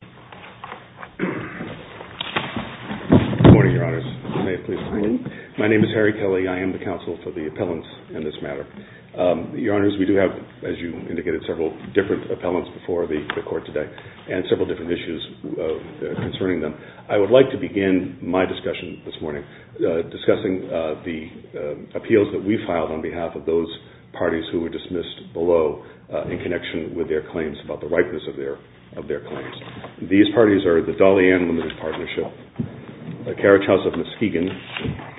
Court of Appeal, and I would like to begin my discussion this morning discussing the appeals that we filed on behalf of those parties who were dismissed below in connection with their claims about the ripeness of their claims. These parties are the Dollyann Limited Partnership, the Carriage House of Muskegon,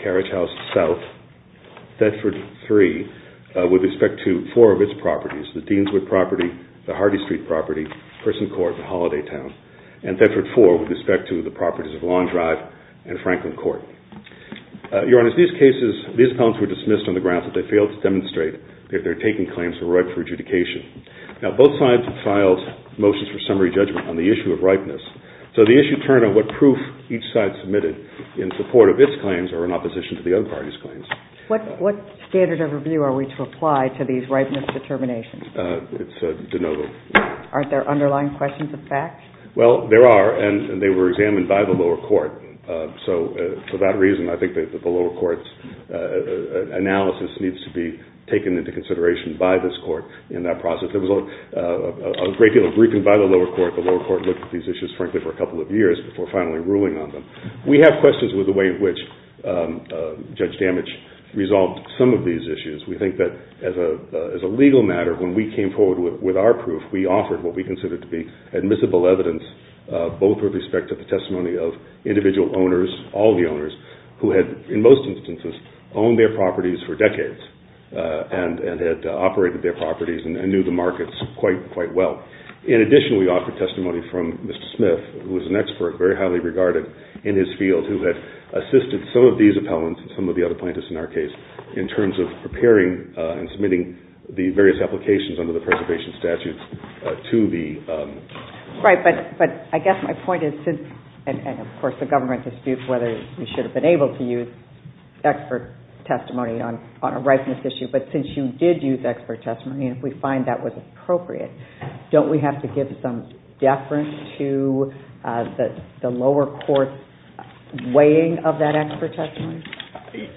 Carriage House South, Thetford III with respect to four of its properties, the Deanswood property, the Hardy Street property, Person Court, and Holiday Town, and Thetford IV with respect to the properties of Long Drive and Franklin Court. Your Honor, these cases, these appeals were dismissed on the grounds that they failed to demonstrate that their taking claims were ripe for adjudication. Now, both sides filed motions for summary judgment on the issue of ripeness, so the issue turned on what proof each side submitted in support of its claims or in opposition to the other parties' claims. What standard of review are we to apply to these ripeness determinations? It's denoted. Aren't there underlying questions of facts? Well, there are, and they were examined by the lower court, so for that reason, I think the lower court's analysis needs to be taken into consideration by this court in that process. There was a great deal of briefing by the lower court. The lower court looked at these issues frankly for a couple of years before finally ruling on them. We have questions with the way in which Judge Damage resolved some of these issues. We think that as a legal matter, when we came forward with our proof, we offered what we considered to be admissible evidence, both with respect to the testimony of individual owners, all the owners, who had, in most instances, owned their properties for decades and had operated their properties and knew the markets quite well. In addition, we offered testimony from Mr. Smith, who was an expert, very highly regarded in his field, who had assisted some of these appellants and some of the other plaintiffs in our case in terms of preparing and submitting the various applications under the preservation statute to the... Right, but I guess my point is, and of course the government disputes whether we should have been able to use expert testimony on a rightness issue, but since you did use expert testimony and we find that was appropriate, don't we have to give some deference to the lower court's weighing of that expert testimony?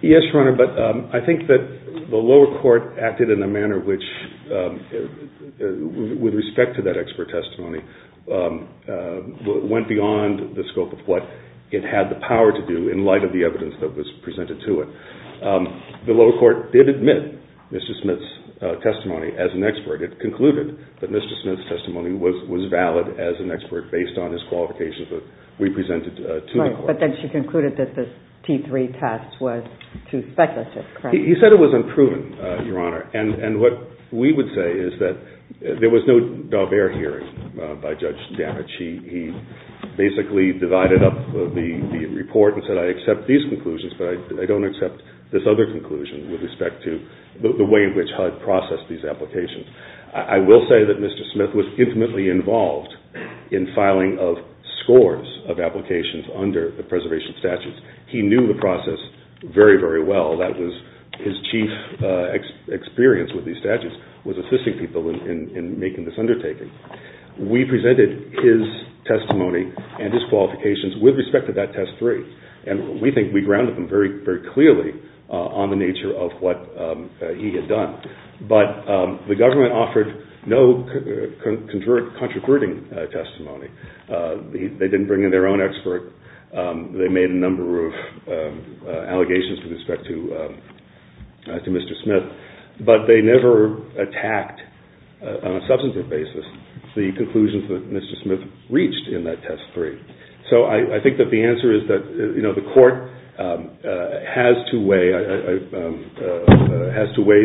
Yes, Your Honor, but I think that the lower court acted in a manner which, with respect to that expert testimony, went beyond the scope of what it had the power to do in light of the evidence that was presented to it. The lower court did admit Mr. Smith's testimony as an expert. It concluded that Mr. Smith's testimony was valid as an expert based on his qualifications that we presented to the lower court. Right, but then she concluded that the T3 test was too speculative, correct? He said it was unproven, Your Honor, and what we would say is that there was no d'Albert hearing by Judge Danich. He basically divided up the report and said, I accept these conclusions, but I don't accept this other conclusion with respect to the way in which HUD processed these applications. I will say that Mr. Smith was intimately involved in filing of scores of applications under the preservation statutes. He knew the process very, very well. That was his chief experience with these statutes, was assisting people in making this undertaking. We presented his testimony and his qualifications with respect to that test 3, and we think we grounded him very clearly on the nature of what he had done. But the government offered no contraverting testimony. They didn't bring in their own expert. They made a number of allegations with respect to Mr. Smith, but they never attacked on a substantive basis the conclusions that Mr. Smith reached in that test 3. So I think that the answer is that the court has to weigh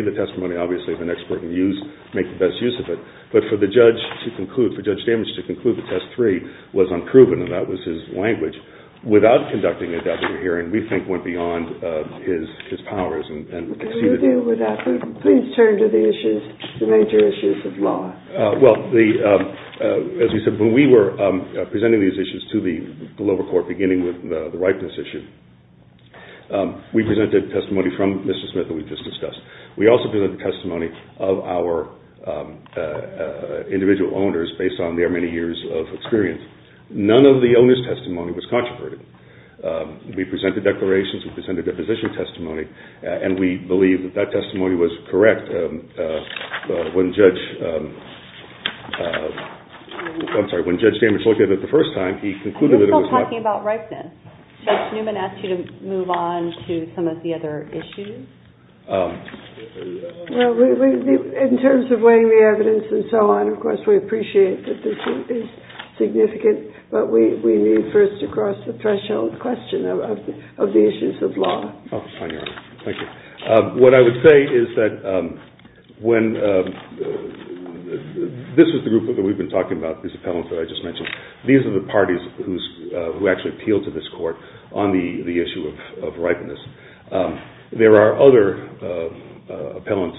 the testimony, obviously, of an expert and make the best use of it. But for the judge to conclude, for Judge Danich to conclude that test 3 was unproven, and that was his language, without conducting a doctorate hearing, we think went beyond his powers and exceeded... Can we deal with that? Please turn to the issues, the major issues of law. Well, as you said, when we were presenting these issues to the lower court, beginning with the ripeness issue, we presented testimony from Mr. Smith that we just discussed. We also presented testimony of our individual owners based on their many years of experience. None of the owners' testimony was contraverted. We presented declarations, we presented deposition testimony, and we believe that that testimony was correct. When Judge... I'm sorry, when Judge Danich looked at it the first time, he concluded that it was correct. Are you still talking about ripeness? Judge Newman asked you to move on to some of the other issues. In terms of weighing the evidence and so on, of course, we appreciate that this is significant, but we need first to cross the threshold question of the issues of law. Thank you. What I would say is that when... This is the group that we've been talking about, these appellants that I just mentioned. These are the parties who actually appeal to this court on the issue of ripeness. There are other appellants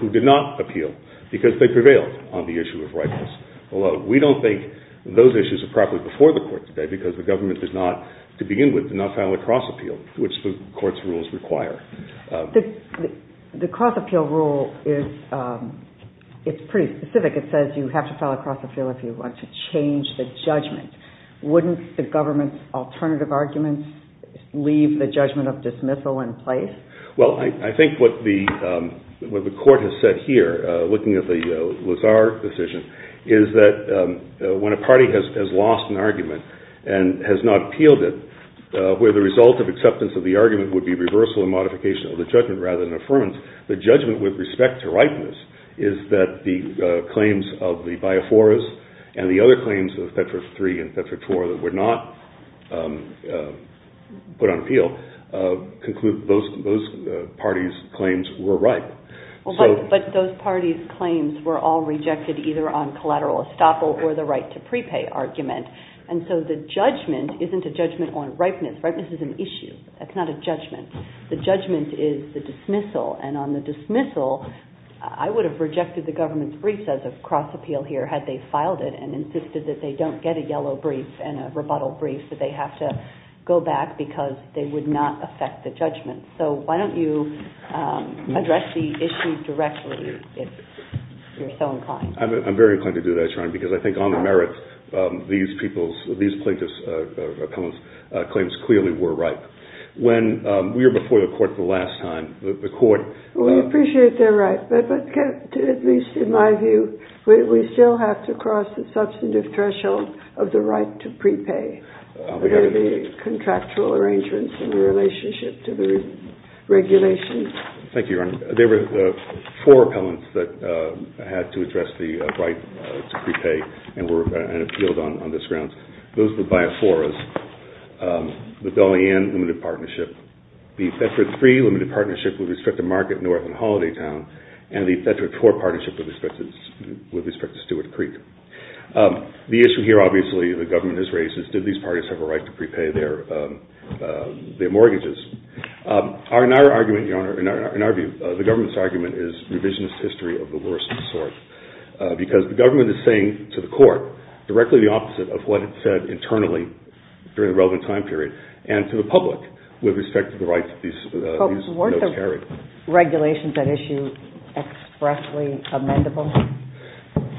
who did not appeal because they prevailed on the issue of ripeness. Although we don't think those issues are properly before the court today because the government does not, to begin with, does not file a cross appeal, which the court's rules require. The cross appeal rule is pretty specific. It says you have to file a cross appeal if you want to change the judgment. Wouldn't the government's alternative arguments leave the judgment of dismissal in place? Well, I think what the court has said here, looking at the Lazar decision, is that when a party has lost an argument and has not appealed it, where the result of acceptance of the argument would be reversal and modification of the judgment rather than affirmance, the judgment with respect to ripeness is that the claims of the Biaforas and the other claims of FEDFOR 3 and FEDFOR 4 that were not put on appeal conclude those parties' claims were right. But those parties' claims were all rejected either on collateral estoppel or the right to prepay argument. And so the judgment isn't a judgment on ripeness. Ripeness is an issue. That's not a judgment. The judgment is the dismissal, and on the dismissal, I would have rejected the government's brief as a cross appeal here had they filed it and insisted that they don't get a yellow brief and a rebuttal brief, that they have to go back because they would not affect the judgment. So why don't you address the issue directly if you're so inclined? I'm very inclined to do that, Sharon, because I think on the merits, these plaintiffs' claims clearly were right. When we were before the court the last time, the court— We appreciate their right, but at least in my view, we still have to cross the substantive threshold of the right to prepay for the contractual arrangements in relationship to the regulations. Thank you, Your Honor. There were four appellants that had to address the right to prepay and were appealed on this grounds. Those were Biaforas, the Belian Limited Partnership, the Thetford III Limited Partnership with respect to Margaret North and Holiday Town, and the Thetford IV Partnership with respect to Stewart Creek. The issue here, obviously, the government has raised is, did these parties have a right to prepay their mortgages? In our argument, Your Honor, in our view, the government's argument is revisionist history of the worst sort because the government is saying to the court directly the opposite of what it said internally during the relevant time period, and to the public with respect to the rights that these notes carry. Weren't those regulations and issues expressly amendable?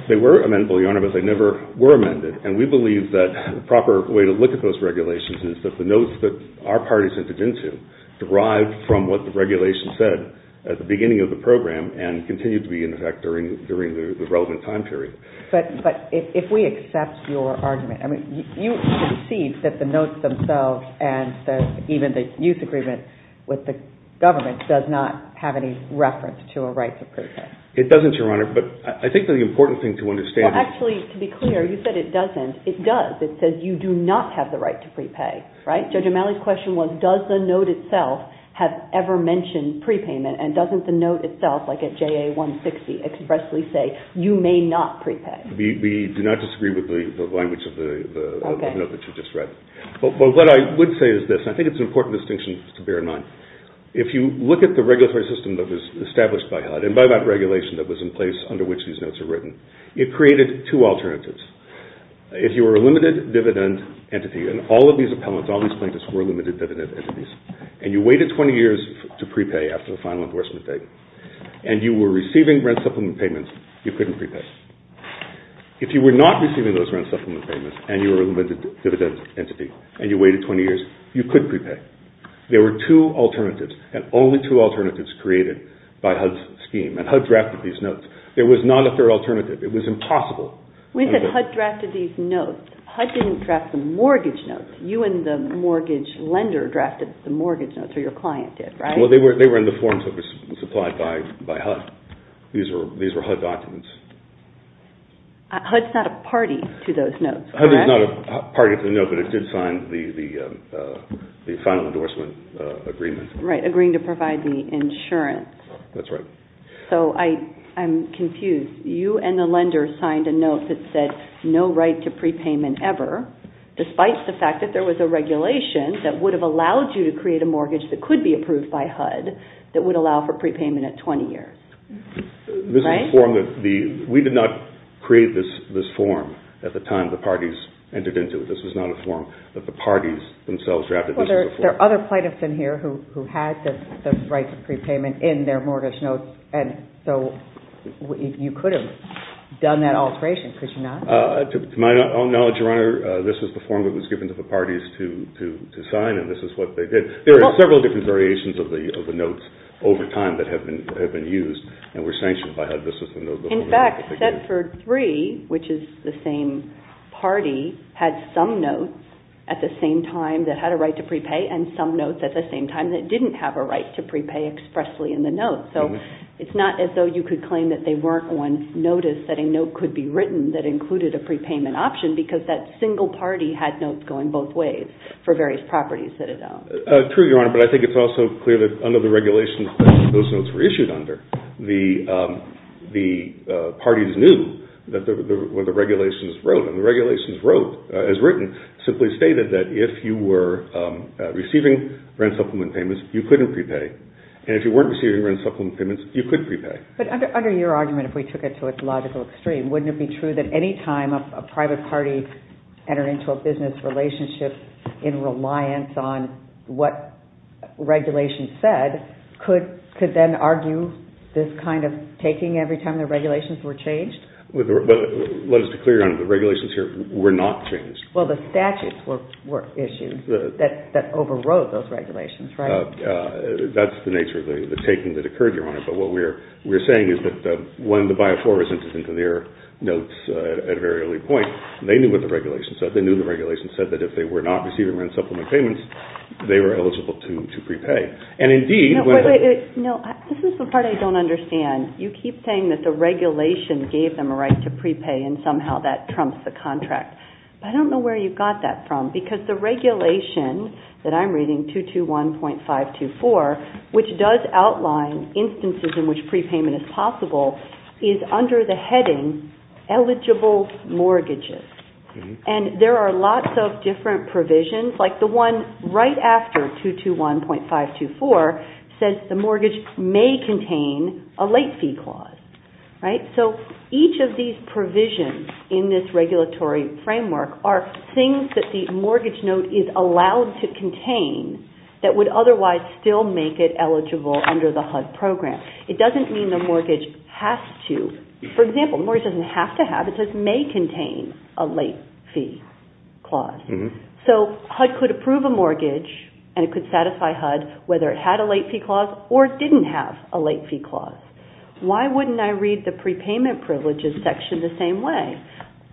They were amendable, Your Honor, but they never were amended. And we believe that the proper way to look at those regulations is that the notes that our parties entered into derived from what the regulations said at the beginning of the program and continue to be in effect during the relevant time period. But if we accept your argument, I mean, you concede that the notes themselves and even the use agreement with the government does not have any reference to a right to prepay. It doesn't, Your Honor, but I think that the important thing to understand... Well, actually, to be clear, you said it doesn't. It does. It says you do not have the right to prepay, right? Judge O'Malley's question was, does the note itself have ever mentioned prepayment, and doesn't the note itself, like at JA-160, expressly say, you may not prepay? We do not disagree with the language of the note that you just read. But what I would say is this. I think it's an important distinction to bear in mind. If you look at the regulatory system that was established by HUD and by that regulation that was in place under which these notes were written, it created two alternatives. If you were a limited-dividend entity, and all of these appellants, all these plaintiffs, were limited-dividend entities, and you waited 20 years to prepay after the final enforcement date, and you were receiving grant supplement payments, you couldn't prepay. If you were not receiving those grant supplement payments, and you were a limited-dividend entity, and you waited 20 years, you couldn't prepay. There were two alternatives, and only two alternatives created by HUD's scheme. And HUD drafted these notes. There was not a fair alternative. It was impossible. When you said HUD drafted these notes, HUD didn't draft the mortgage notes. You and the mortgage lender drafted the mortgage notes, or your client did, right? Well, they were in the forms that were supplied by HUD. These were HUD documents. HUD's not a party to those notes, correct? HUD is not a party to the notes, but it did sign the final endorsement agreement. Right, agreeing to provide the insurance. That's right. So I'm confused. You and the lender signed a note that said, no right to prepayment ever, despite the fact that there was a regulation that would have allowed you to create a mortgage that could be approved by HUD that would allow for prepayment at 20 years, right? We did not create this form at the time the parties entered into it. This was not a form that the parties themselves drafted. There are other plaintiffs in here who had the right to prepayment in their mortgage notes, and so you could have done that alteration, could you not? To my own knowledge, Your Honor, this was the form that was given to the parties to sign, and this is what they did. There are several different variations of the notes over time that have been used and were sanctioned by HUD. In fact, Setford 3, which is the same party, had some notes at the same time that had a right to prepay and some notes at the same time that didn't have a right to prepay expressly in the note. So it's not as though you could claim that they weren't on notice that a note could be written that included a prepayment option because that single party had notes going both ways True, Your Honor, but I think it's also clear that under the regulations that those notes were issued under, the parties knew what the regulations wrote, and the regulations wrote, as written, simply stated that if you were receiving rent supplement payments, you couldn't prepay, and if you weren't receiving rent supplement payments, you could prepay. But under your argument, if we took it to a logical extreme, wouldn't it be true that any time a private party is entering into a business relationship in reliance on what regulations said, could then argue this kind of taking every time the regulations were changed? But let us be clear, Your Honor, the regulations here were not changed. Well, the statutes were issued that overrode those regulations, right? That's the nature of the taking that occurred, Your Honor, but what we're saying is that when the BIO4 was entered into their notes at a very early point, they knew what the regulations said. They knew the regulations said that if they were not receiving rent supplement payments, they were eligible to prepay. And indeed... No, this is the part I don't understand. You keep saying that the regulation gave them a right to prepay and somehow that trumps the contract. I don't know where you got that from, because the regulation that I'm reading, 221.524, which does outline instances in which prepayment is possible, is under the heading eligible mortgages. And there are lots of different provisions, like the one right after 221.524 says the mortgage may contain a late fee clause, right? So each of these provisions in this regulatory framework are things that the mortgage note is allowed to contain that would otherwise still make it eligible under the HUD program. It doesn't mean the mortgage has to. For example, the mortgage doesn't have to have, it just may contain a late fee clause. So HUD could approve a mortgage and it could satisfy HUD whether it had a late fee clause or didn't have a late fee clause. Why wouldn't I read the prepayment privileges section the same way?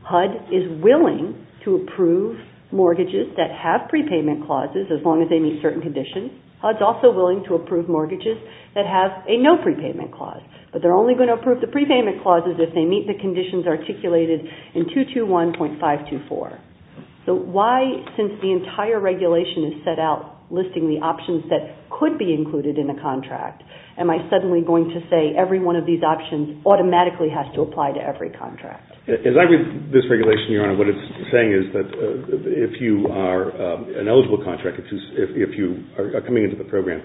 HUD is willing to approve mortgages that have prepayment clauses as long as they meet certain conditions. HUD's also willing to approve mortgages that have a no prepayment clause, but they're only going to approve the prepayment clauses if they meet the conditions articulated in 221.524. So why, since the entire regulation is set out listing the options that could be included in a contract, am I suddenly going to say every one of these options automatically has to apply to every contract? As I read this regulation, what it's saying is that if you are an eligible contractor, if you are coming into the program,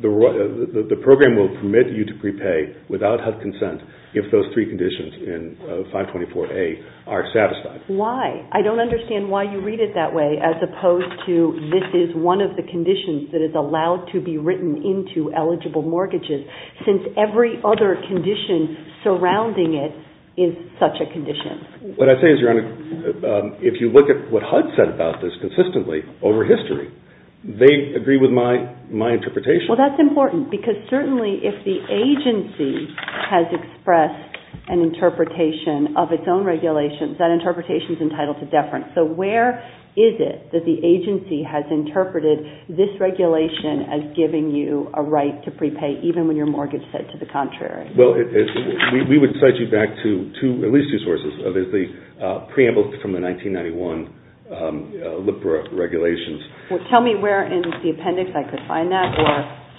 the program will permit you to prepay without HUD consent if those three conditions in 524A are satisfied. Why? I don't understand why you read it that way as opposed to this is one of the conditions that is allowed to be written into eligible mortgages since every other condition surrounding it is such a condition. What I say is, Your Honor, if you look at what HUD said about this consistently over history, they agree with my interpretation. Well, that's important because certainly if the agency has expressed an interpretation of its own regulations, that interpretation is entitled to deference. So where is it that the agency has interpreted this regulation as giving you a right to prepay even when your mortgage is set to the contrary? Well, we would cite you back to at least two sources. The preamble from the 1991 LIBRA regulations. Tell me where in the appendix I could find that or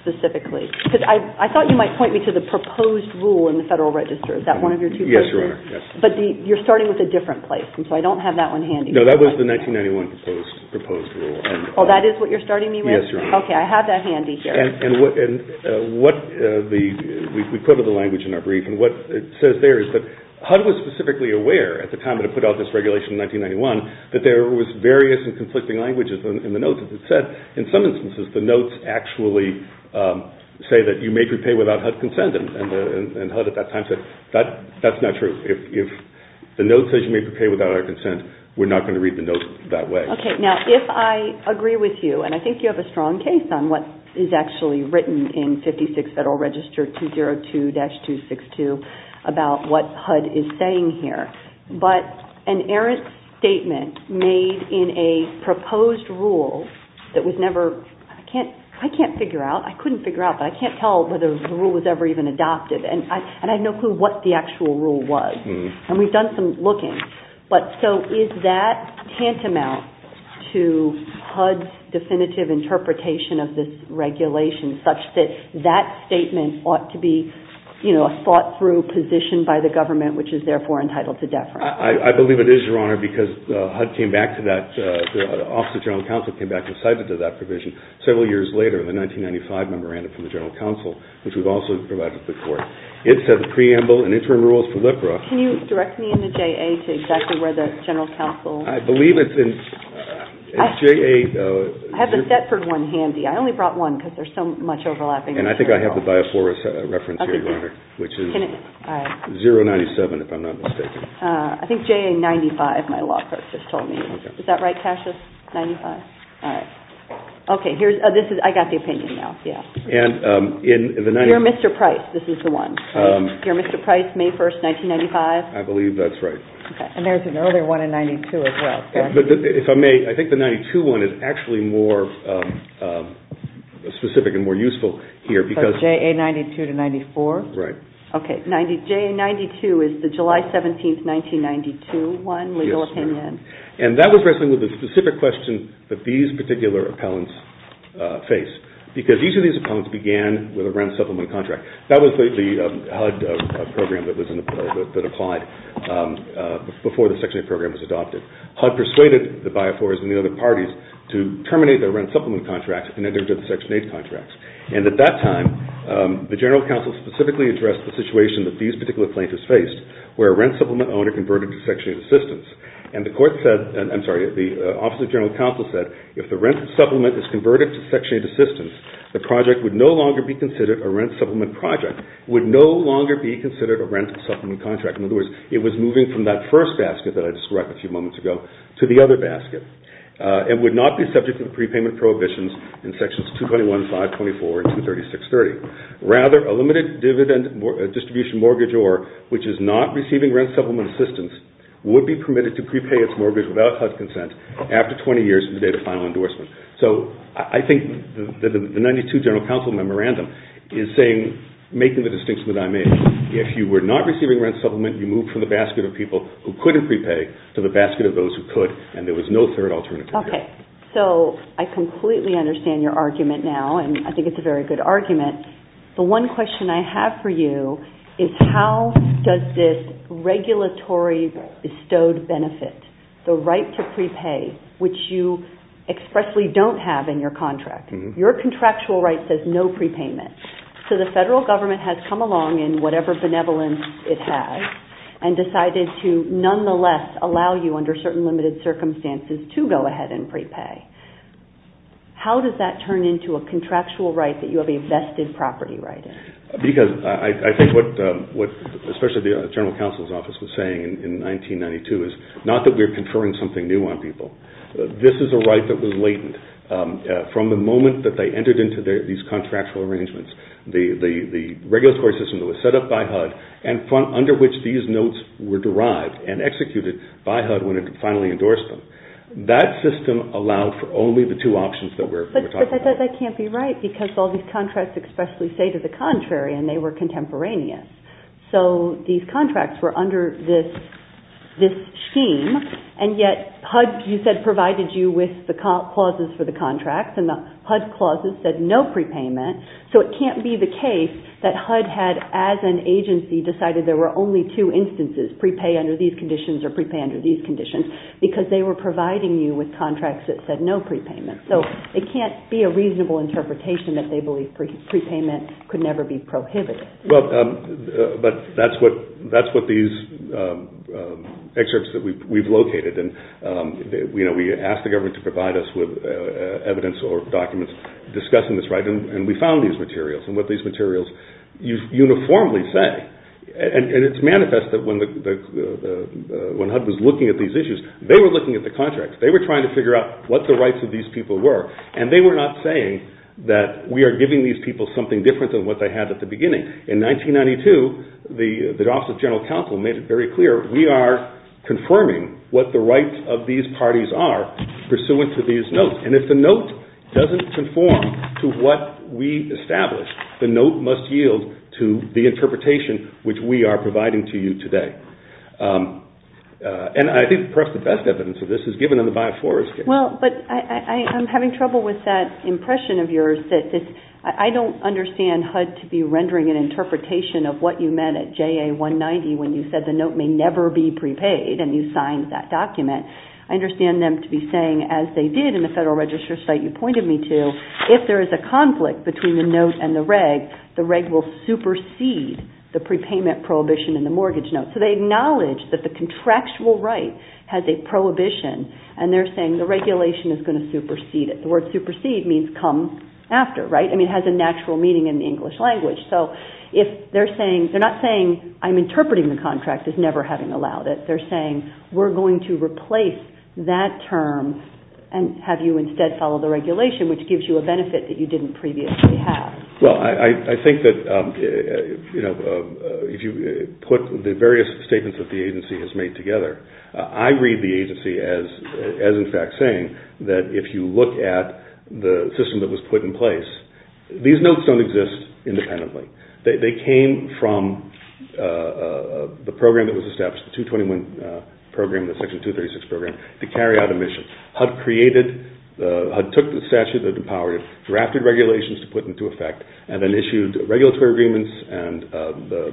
specifically. Because I thought you might point me to the proposed rule in the Federal Register. Is that one of your two books? Yes, Your Honor. But you're starting with a different place, and so I don't have that one handy. No, that was the 1991 proposed rule. Oh, that is what you're starting me with? Yes, Your Honor. Okay, I have that handy here. And what we put in the language in our brief, and what it says there is that HUD was specifically aware at the time that it put out this regulation in 1991 that there was various and conflicting languages in the notes that it said. In some instances, the notes actually say that you may prepay without HUD consent, and HUD at that time said that's not true. If the note says you may prepay without HUD consent, we're not going to read the note that way. Okay, now if I agree with you, and I think you have a strong case on what is actually written in 56 Federal Register 202-262 about what HUD is saying here, but an error statement made in a proposed rule that was never... I can't figure out. I couldn't figure out, but I can't tell whether the rule was ever even adopted. And I know what the actual rule was, and we've done some looking. But so is that tantamount to HUD's definitive interpretation of this regulation such that that statement ought to be, you know, a thought-through position by the government, which is therefore entitled to deference? I believe it is, Your Honor, because HUD came back to that... the Office of General Counsel came back and cited to that provision several years later in the 1995 memorandum from the General Counsel, which was also provided before. It said the preamble and interim rules for LIPRA... Can you direct me in the J.A. to exactly where the General Counsel... I believe it's in J.A. I have the Thetford one handy. I only brought one because there's so much overlapping. And I think I have the Bias Flores reference here, Your Honor, which is 097, if I'm not mistaken. I think J.A. 95, my law professor told me. Is that right, Cassius, 95? All right. Okay, here's... I got the opinion now, yeah. And in the... Here, Mr. Price, this is the one. Here, Mr. Price, May 1st, 1995. I believe that's right. And there's an earlier one in 92 as well. But if I may, I think the 92 one is actually more specific and more useful here because... So J.A. 92 to 94? Right. Okay, J.A. 92 is the July 17th, 1992 one, legal opinion. Yes. And that was wrestling with the specific question that these particular appellants face because each of these appellants began with a rent-supplement contract. That was the HUD program that applied before the Section 8 program was adopted. HUD persuaded the BIOFORS and the other parties to terminate their rent-supplement contract and enter into the Section 8 contract. And at that time, the General Counsel specifically addressed the situation that these particular plaintiffs faced where a rent-supplement owner converted to Section 8 assistance. And the court said... I'm sorry, the Office of the General Counsel said if the rent-supplement is converted to Section 8 assistance, the project would no longer be considered a rent-supplement project, would no longer be considered a rent-supplement contract. In other words, it was moving from that first aspect that I described a few moments ago to the other basket and would not be subject to the prepayment prohibitions in Sections 221, 524, and 23630. Rather, a limited distribution mortgage or which is not receiving rent-supplement assistance would be permitted to prepay its mortgage without HUD consent after 20 years from the date of final endorsement. So I think that the 92 General Counsel Memorandum is saying, making the distinction that I made, if you were not receiving rent-supplement, you moved from the basket of people who couldn't prepay to the basket of those who could, and there was no third alternative. Okay. So I completely understand your argument now, and I think it's a very good argument. The one question I have for you is how does this regulatory bestowed benefit, the right to prepay, which you expressly don't have in your contract. Your contractual right says no prepayment. So the federal government has come along in whatever benevolence it has and decided to nonetheless allow you, under certain limited circumstances, to go ahead and prepay. How does that turn into a contractual right that you have a vested property right in? Because I think what, especially the General Counsel's Office was saying in 1992, is not that we're conferring something new on people. This is a right that was latent from the moment that they entered into these contractual arrangements. The regulatory system was set up by HUD and under which these notes were derived and executed by HUD when it finally endorsed them. That system allowed for only the two options that we're talking about. But that can't be right, because all these contracts expressly say to the contrary, and they were contemporaneous. So these contracts were under this scheme, and yet HUD, you said, provided you with the clauses for the contracts, and the HUD clauses said no prepayment. So it can't be the case that HUD had, as an agency, decided there were only two instances, prepay under these conditions or prepay under these conditions, because they were providing you with contracts that said no prepayment. So it can't be a reasonable interpretation that they believed prepayment could never be prohibited. But that's what these excerpts that we've located. We asked the government to provide us with evidence or documents discussing this, right? And we found these materials and what these materials uniformly say. And it's manifest that when HUD was looking at these issues, they were looking at the contracts. They were trying to figure out what the rights of these people were, and they were not saying that we are giving these people something different than what they had at the beginning. In 1992, the Office of General Counsel made it very clear we are confirming what the rights of these parties are pursuant to these notes. And if the note doesn't conform to what we established, the note must yield to the interpretation which we are providing to you today. And I think perhaps the best evidence of this is given in the Biosphorus case. Well, but I'm having trouble with that impression of yours. I don't understand HUD to be rendering an interpretation of what you meant at JA-190 when you said the note may never be prepaid and you signed that document. I understand them to be saying, as they did in the Federal Register site you pointed me to, if there is a conflict between the note and the reg, the reg will supersede the prepayment prohibition in the mortgage note. So they acknowledge that the contractual right has a prohibition, and they're saying the regulation is going to supersede it. The word supersede means come after, right? I mean, it has a natural meaning in the English language. So they're not saying I'm interpreting the contract as never having allowed it. But they're saying we're going to replace that term and have you instead follow the regulation, which gives you a benefit that you didn't previously have. Well, I think that, you know, if you put the various statements that the agency has made together, I read the agency as in fact saying that if you look at the system that was put in place, these notes don't exist independently. They came from the program that was established, the 221 program, the Section 236 program, to carry out a mission. HUD created, HUD took the statute that empowered it, drafted regulations to put into effect, and then issued regulatory agreements and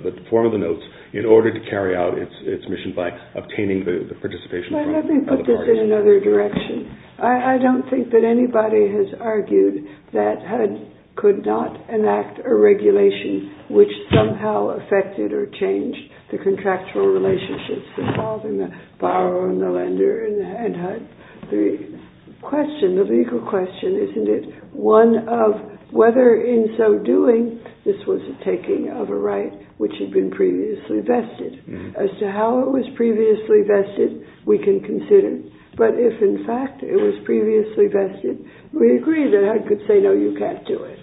the form of the notes in order to carry out its mission by obtaining the participation. Let me put this in another direction. I don't think that anybody has argued that HUD could not enact a regulation which somehow affected or changed the contractual relationships involved in the borrower and the lender and HUD. The question, the legal question, isn't it, one of whether in so doing, this was a taking of a right which had been previously vested. As to how it was previously vested, we can consider. But if in fact it was previously vested, we agree that HUD could say, no, you can't do it.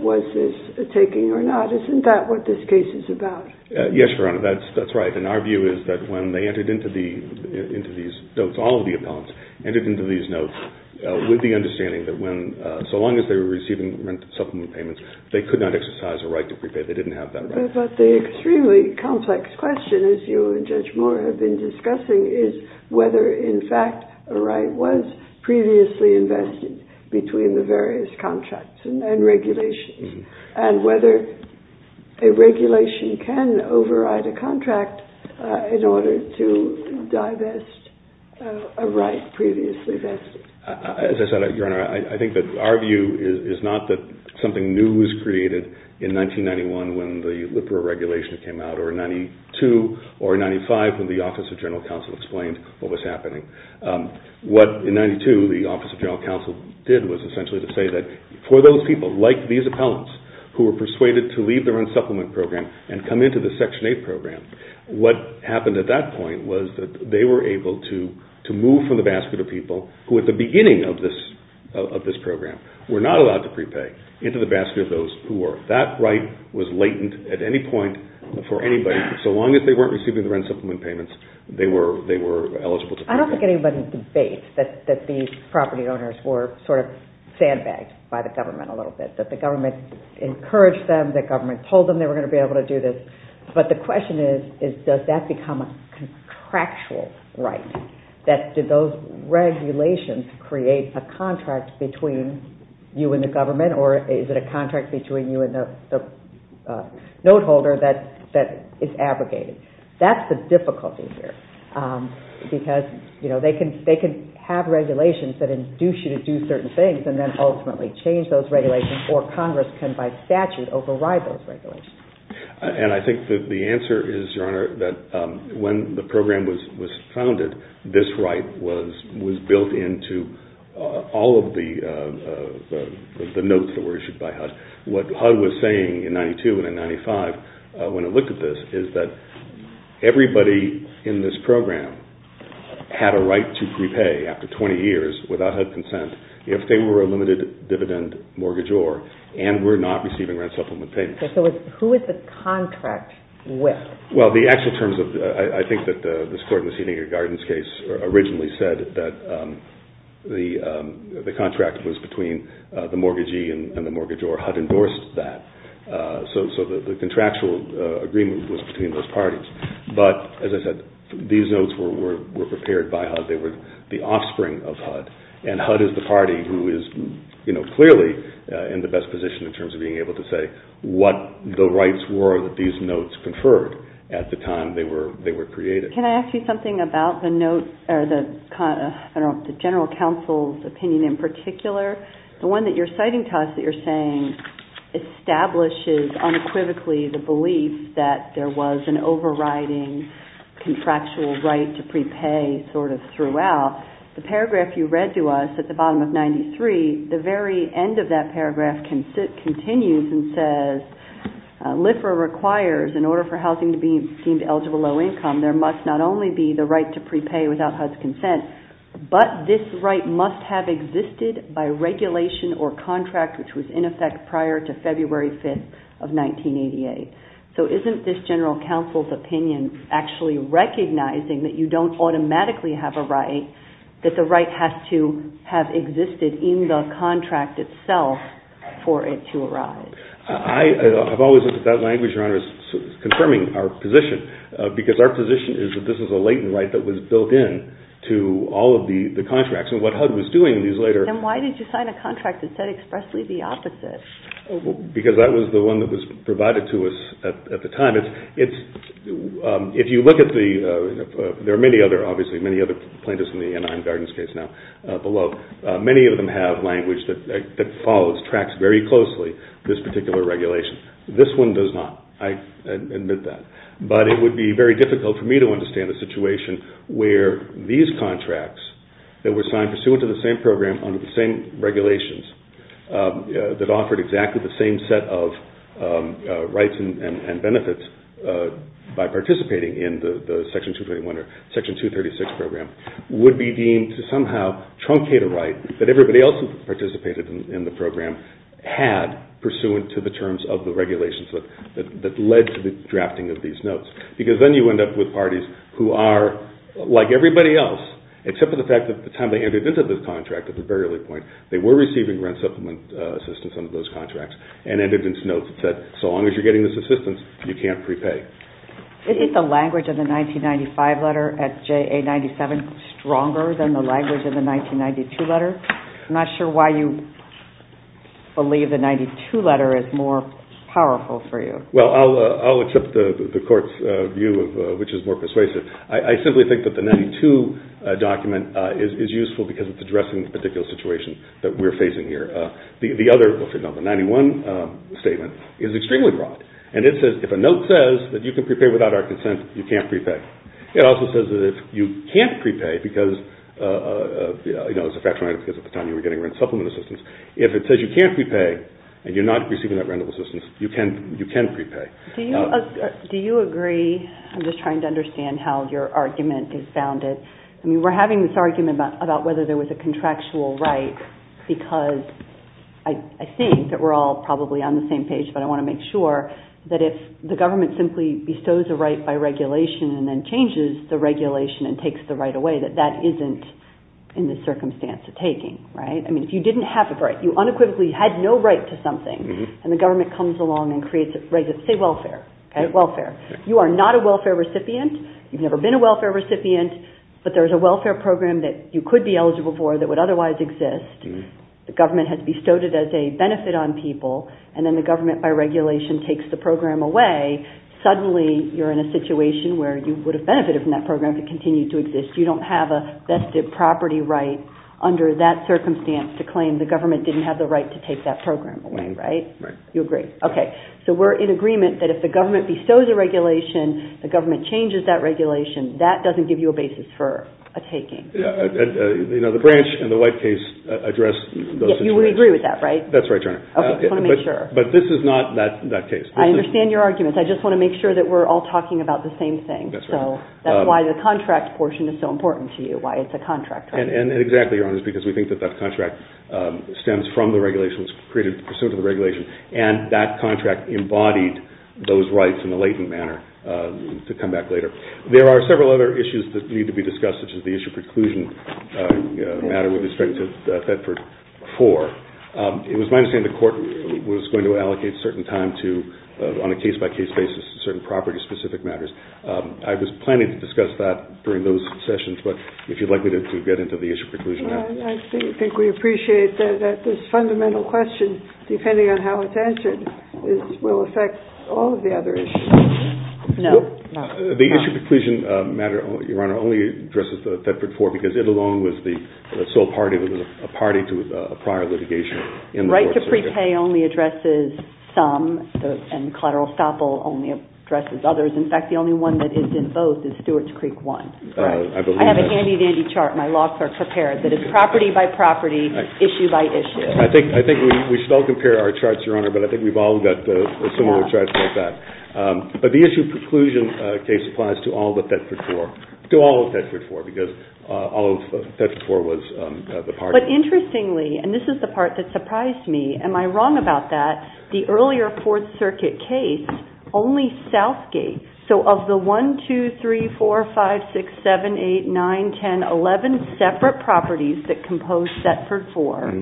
Was this a taking or not? Isn't that what this case is about? Yes, Your Honor, that's right. And our view is that when they entered into these notes, all of the accounts entered into these notes, with the understanding that when, so long as they were receiving supplement payments, they could not exercise a right to prepare. They didn't have that right. But the extremely complex question, as you and Judge Moore have been discussing, is whether, in fact, a right was previously invested between the various contracts and regulations. And whether a regulation can override a contract in order to divest a right previously vested. As I said, Your Honor, I think that our view is not that something new was created in 1991 when the LIPRA regulation came out, or in 92, or in 95, when the Office of General Counsel explained what was happening. What, in 92, the Office of General Counsel did was essentially to say that for those people, like these appellants who were persuaded to leave their own supplement program and come into the Section 8 program, what happened at that point was that they were able to move from the basket of people who, at the beginning of this program, were not allowed to prepay, into the basket of those who were. That right was latent at any point for anybody, so long as they weren't receiving their own supplement payments, they were eligible to pay. I don't think anybody would debate that these property owners were sort of sandbagged by the government a little bit. That the government encouraged them, that the government told them they were going to be able to do this. But the question is, does that become a contractual right? Did those regulations create a contract between you and the government, or is it a contract between you and the note holder that is abrogated? That's the difficulty here, because they can have regulations that induce you to do certain things and then ultimately change those regulations, or Congress can, by statute, override those regulations. And I think that the answer is, Your Honor, that when the program was founded, this right was built into all of the notes that were issued by HUD. What HUD was saying in 1992 and in 1995 when it looked at this, is that everybody in this program had a right to prepay after 20 years without HUD consent if they were a limited-dividend mortgagor and were not receiving rent supplement payments. So who is this contract with? Well, the actual terms of... I think that this clerk in the Schrodinger Gardens case originally said that the contract was between the mortgagee and the mortgagor. HUD endorsed that. So the contractual agreement was between those parties. But, as I said, these notes were prepared by HUD. They were the offspring of HUD. And HUD is the party who is clearly in the best position in terms of being able to say what the rights were that these notes conferred at the time they were created. Can I ask you something about the general counsel's opinion in particular? The one that you're citing, establishes uncritically the belief that there was an overriding contractual right to prepay sort of throughout. The paragraph you read to us at the bottom of 93, the very end of that paragraph continues and says, LIFR requires, in order for housing to be deemed eligible low-income, there must not only be the right to prepay without HUD's consent, but this right must have existed by regulation or contract, which was in effect prior to February 5th of 1988. So isn't this general counsel's opinion actually recognizing that you don't automatically have a right, that the right has to have existed in the contract itself for it to arise? I've always said that that language, Your Honor, is confirming our position because our position is that this is a latent right that was built in to all of the contracts. Then why did you sign a contract that said expressly the opposite? Because that was the one that was provided to us at the time. If you look at the... There are many other, obviously, many other plaintiffs in the United States now below. Many of them have language that follows, tracks very closely this particular regulation. This one does not. I admit that. But it would be very difficult for me to understand a situation where these contracts that were signed pursuant to the same program under the same regulations that offered exactly the same set of rights and benefits by participating in the Section 236 program would be deemed to somehow truncate a right that everybody else who participated in the program had pursuant to the terms of the regulations that led to the drafting of these notes. Because then you end up with parties who are like everybody else, except for the fact that by the time they entered into this contract, at the very early point, they were receiving rent supplement assistance under those contracts and entered into notes that so long as you're getting this assistance, you can't prepay. Isn't the language in the 1995 letter at JA97 stronger than the language in the 1992 letter? I'm not sure why you believe the 1992 letter is more powerful for you. Well, I'll accept the court's view, which is more persuasive. I simply think that the 1992 document is useful because it's addressing the particular situation that we're facing here. The other, the 1991 statement, is extremely broad. And it says, if a note says that you can prepay without our consent, you can't prepay. It also says that if you can't prepay because, you know, it's a factual item because at the time you were getting rent supplement assistance. If it says you can't prepay and you're not receiving that rental assistance, you can prepay. Do you agree? I'm just trying to understand how your argument is bounded. I mean, we're having this argument about whether there was a contractual right because I think that we're all probably on the same page, but I want to make sure that if the government simply bestows a right by regulation and then changes the regulation and takes the right away, that that isn't in the circumstance of taking. Right? I mean, if you didn't have a right, you unequivocally had no right to something and the government comes along and creates it, raises it. Say welfare, okay? Welfare. You are not a welfare recipient. You've never been a welfare recipient, but there's a welfare program that you could be eligible for that would otherwise exist. The government has bestowed it as a benefit on people and then the government by regulation takes the program away. Suddenly, you're in a situation where you would have benefited from that program if it continued to exist. You don't have a vested property right under that circumstance to claim the government didn't have the right to take that program away, right? Right. You agree. Okay. So, we're in agreement that if the government bestows a regulation, the government changes that regulation. That doesn't give you a basis for a taking. You know, the branch and the white case address those situations. Yeah, we agree with that, right? That's right, Joanna. Okay. I want to make sure. But this is not that case. I understand your arguments. I just want to make sure that we're all talking about the same thing. That's right. So, that's why the contract portion is so important to you, why it's a contract, right? And exactly, because we think that that contract stems from the regulations, and that contract embodied those rights in a latent manner to come back later. There are several other issues that need to be discussed, such as the issue of preclusion matter with respect to the Fed for four. It was my understanding the court was going to allocate certain time to, on a case-by-case basis, certain property-specific matters. I was planning to discuss that during those sessions, but if you'd like me to get into the issue of preclusion. I think we appreciate that this fundamental question, depending on how it's answered, will affect all of the other issues. No. The issue of preclusion matter, Your Honor, only addresses the Fed for four, because it alone was the sole party. It was a party to a prior litigation. Right to prepay only addresses some, and collateral estoppel only addresses others. In fact, the only one that is in both is Stewart's Creek one. I have a handy-dandy chart. My locks are prepared. That is property by property, issue by issue. I think we should all compare our charts, Your Honor, but I think we've all got similar charts like that. But the issue of preclusion case applies to all of the Fed for four, to all of the Fed for four, because all of the Fed for four was the party. But interestingly, and this is the part that surprised me, am I wrong about that, the earlier Fourth Circuit case, only Southgate, so of the one, two, three, four, five, six, seven, eight, nine, ten, eleven separate properties that compose Fed for four,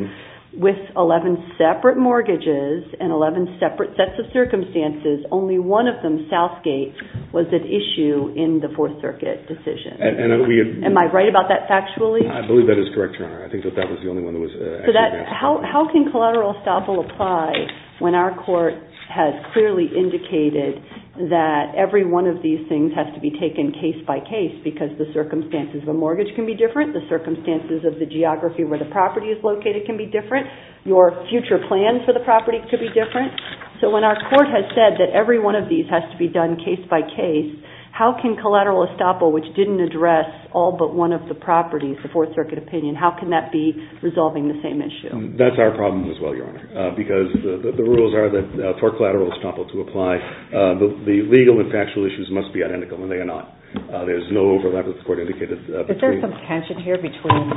with eleven separate mortgages and eleven separate sets of circumstances, only one of them, Southgate, was at issue in the Fourth Circuit decision. Am I right about that factually? I believe that is correct, Your Honor. I think that that was the only one that was actually correct. How can collateral estoppel apply when our court has clearly indicated that every one of these things has to be taken case by case because the circumstances of the mortgage can be different, the circumstances of the geography where the property is located can be different, your future plans for the property could be different. So when our court has said that every one of these has to be done case by case, how can collateral estoppel, which didn't address all but one of the properties, the Fourth Circuit opinion, how can that be resolving the same issue? That's our problem as well, Your Honor, because the rules are that for collateral estoppel to apply, the legal and factual issues must be identical, and they are not. There is no overlap with the court indicated. Is there some tension here between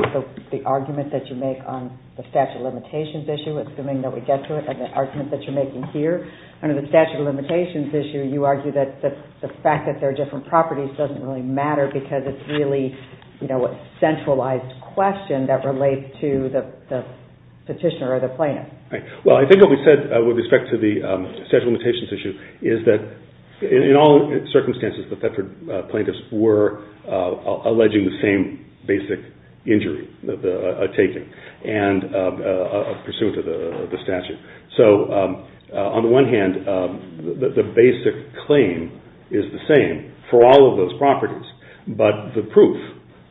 the argument that you make on the statute of limitations issue, assuming that we get to it, and the argument that you're making here? Under the statute of limitations issue, you argue that the fact that there are different properties doesn't really matter because it's really a centralized question that relates to the petitioner or the plaintiff. Right. Well, I think what we said with respect to the statute of limitations issue is that in all circumstances, the Plaintiffs were alleging the same basic injury, a taking, and pursuant to the statute. So on the one hand, the basic claim is the same for all of those properties, but the proof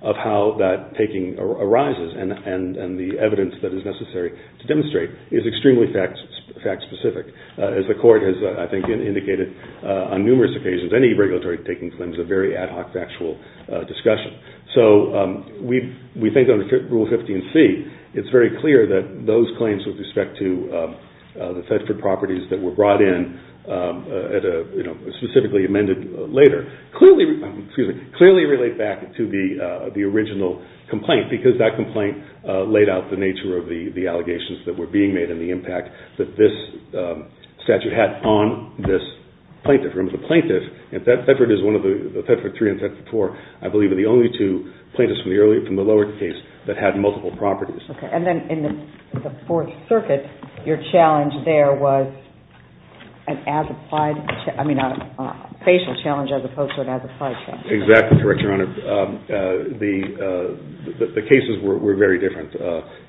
of how that taking arises and the evidence that is necessary to demonstrate is extremely fact-specific. As the court has, I think, indicated on numerous occasions, any regulatory taking claim is a very ad hoc factual discussion. So we think under Rule 15c, it's very clear that those claims with respect to the Fedford properties that were brought in specifically amended later clearly relate back to the original complaint because that complaint laid out the nature of the allegations that were being made and the impact that this statute had on this plaintiff. And Fedford is one of the, the Fedford 3 and Fedford 4, I believe, are the only two plaintiffs from the lower case that had multiple properties. Okay. And then in the Fourth Circuit, your challenge there was an as-applied, I mean, a facial challenge as opposed to an as-applied challenge. Exactly. The cases were very different.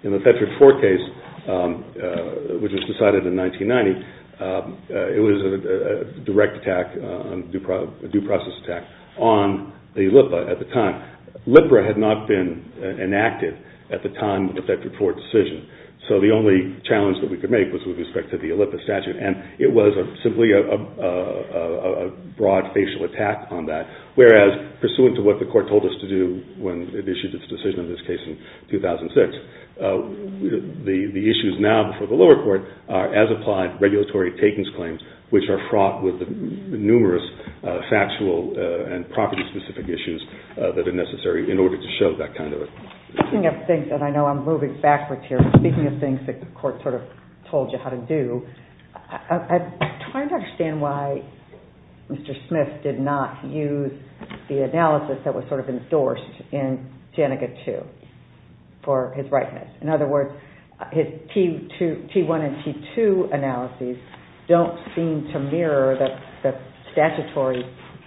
In the Fedford 4 case, which was decided in 1990, it was a direct attack a due process attack on the LIPA at the time. LIPA had not been enacted at the time of the Fedford 4 decision. So the only challenge that we could make was with respect to the LIPA statute and it was simply a broad facial attack on that. Whereas, pursuant to what the court told us to do when it issued its decision in this case in 2006, the issues now before the lower court are as-applied regulatory takings claims which are fraught with numerous factual and property-specific issues that are necessary in order to show that kind of a... Speaking of things that I know I'm moving backwards here, speaking of things that the court sort of told you how to do, I'm trying to understand why Mr. Smith did not use the analysis that was sort of endorsed in Janneke 2 for his rightness. In other words, his T1 and T2 analyses don't seem to mirror the statutory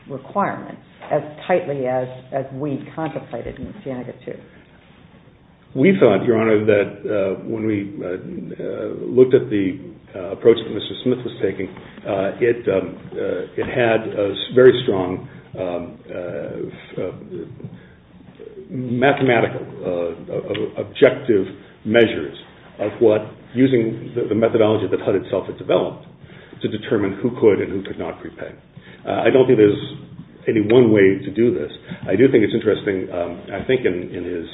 requirement as tightly as we contemplated in Janneke 2. We thought, Your Honor, that when we looked at the approach that Mr. Smith was taking, it had very strong mathematical objective measures using the methodology that HUD itself had developed to determine who could and who could not prepay. I don't think there's any one way to do this. I do think it's interesting, I think, in his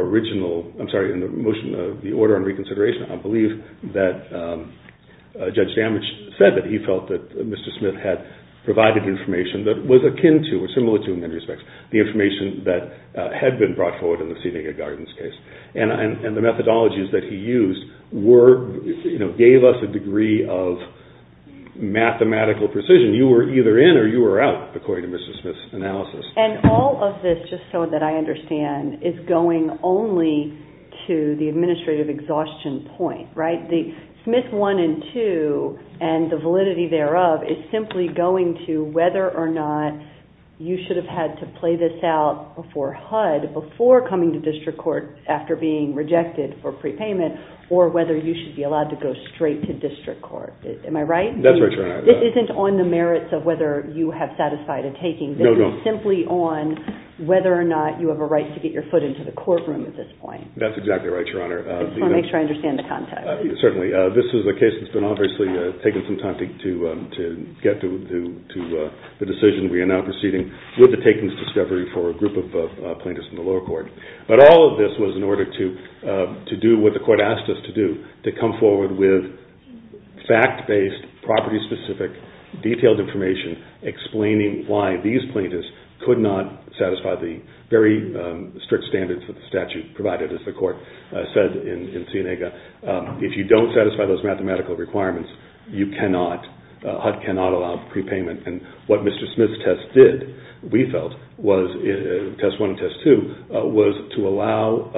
original... I'm sorry, in the motion of the order on reconsideration, I believe that Judge Sandwich said that he felt that Mr. Smith had provided information that was akin to or similar to, in many respects, the information that had been brought forward in the Seeding and Gardens case. And the methodologies that he used gave us a degree of mathematical precision. You were either in or you were out, according to Mr. Smith's analysis. And all of this, just so that I understand, is going only to the administrative exhaustion point, right? The Smith 1 and 2 and the validity thereof is simply going to whether or not you should have had to play this out before HUD, before coming to district court after being rejected for prepayment, or whether you should be allowed to go straight to district court. Am I right? That's right, Your Honor. This isn't on the merits of whether you have satisfied a taking, this is simply on whether or not you have a right to get your foot into the courtroom at this point. That's exactly right, Your Honor. I just want to make sure I understand the context. Certainly. This is a case that's been obviously taking some time to get to the decision we are now proceeding with the takings discovery for a group of plaintiffs in the lower court. But all of this was in order to do what the court asked us to do, to come forward with fact-based, property-specific, detailed information explaining why these plaintiffs could not satisfy the very strict standards that the statute provided, as the court said in Seneca. If you don't satisfy those mathematical requirements, you cannot, HUD cannot allow prepayment. And what Mr. Smith's test did, we felt, test one and test two, was to allow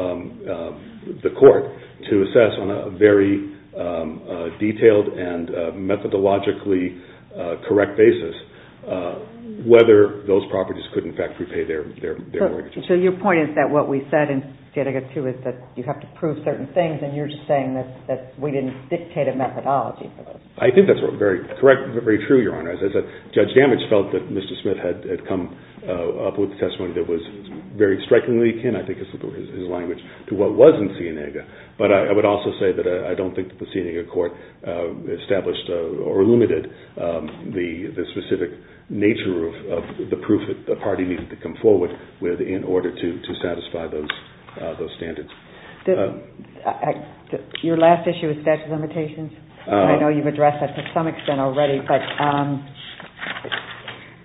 the court to assess on a very detailed and methodologically correct basis whether those properties could in fact repay their wages. So your point is that what we said in Seneca too is that you have to prove certain things, and you're just saying that we didn't dictate a methodology. I think that's very correct and very true, Your Honor. Judge Damage felt that Mr. Smith had come up with a testimony that was very strikingly akin, I think this is his language, to what was in Seneca. But I would also say that I don't think the Seneca court established or limited the specific nature of the proof that the party needed to come forward with in order to satisfy those standards. Your last issue is tax limitations. I know you've addressed that to some extent already, but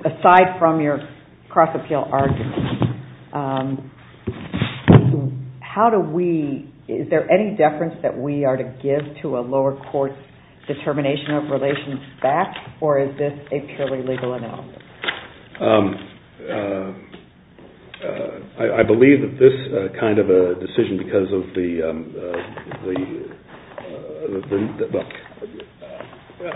aside from your cross-appeal argument, how do we, is there any deference that we are to give to a lower court's determination of relations back, or is this a purely legal analysis? I believe that this kind of a decision because of the,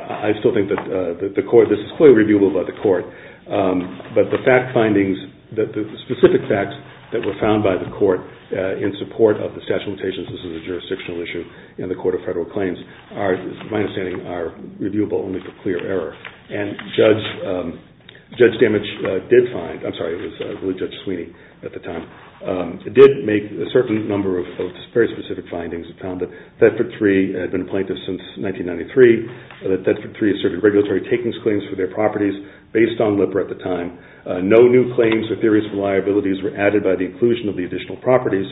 I still think that the court, this is clearly reviewable by the court, but the fact findings, the specific facts that were found by the court in support of the statute of limitations, this is a jurisdictional issue, in the Court of Federal Claims are, my understanding, are reviewable and make a clear error. And Judge Damage did find, I'm sorry, it was Judge Sweeney at the time, did make a certain number of very specific findings and found that Thetford III had been appointed since 1993, that Thetford III had served in regulatory takings claims for their properties based on LIPR at the time. No new claims or theories of liabilities were added by the inclusion of the additional properties,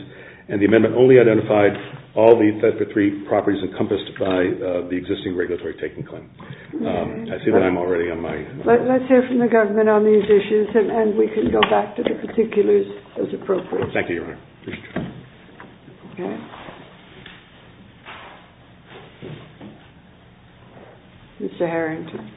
and the amendment only identified all the Thetford III properties encompassed by the existing regulatory taking claim. Let's hear from the government on these issues and we can go back to the particulars as appropriate. Thank you, Your Honor. Mr. Harrington.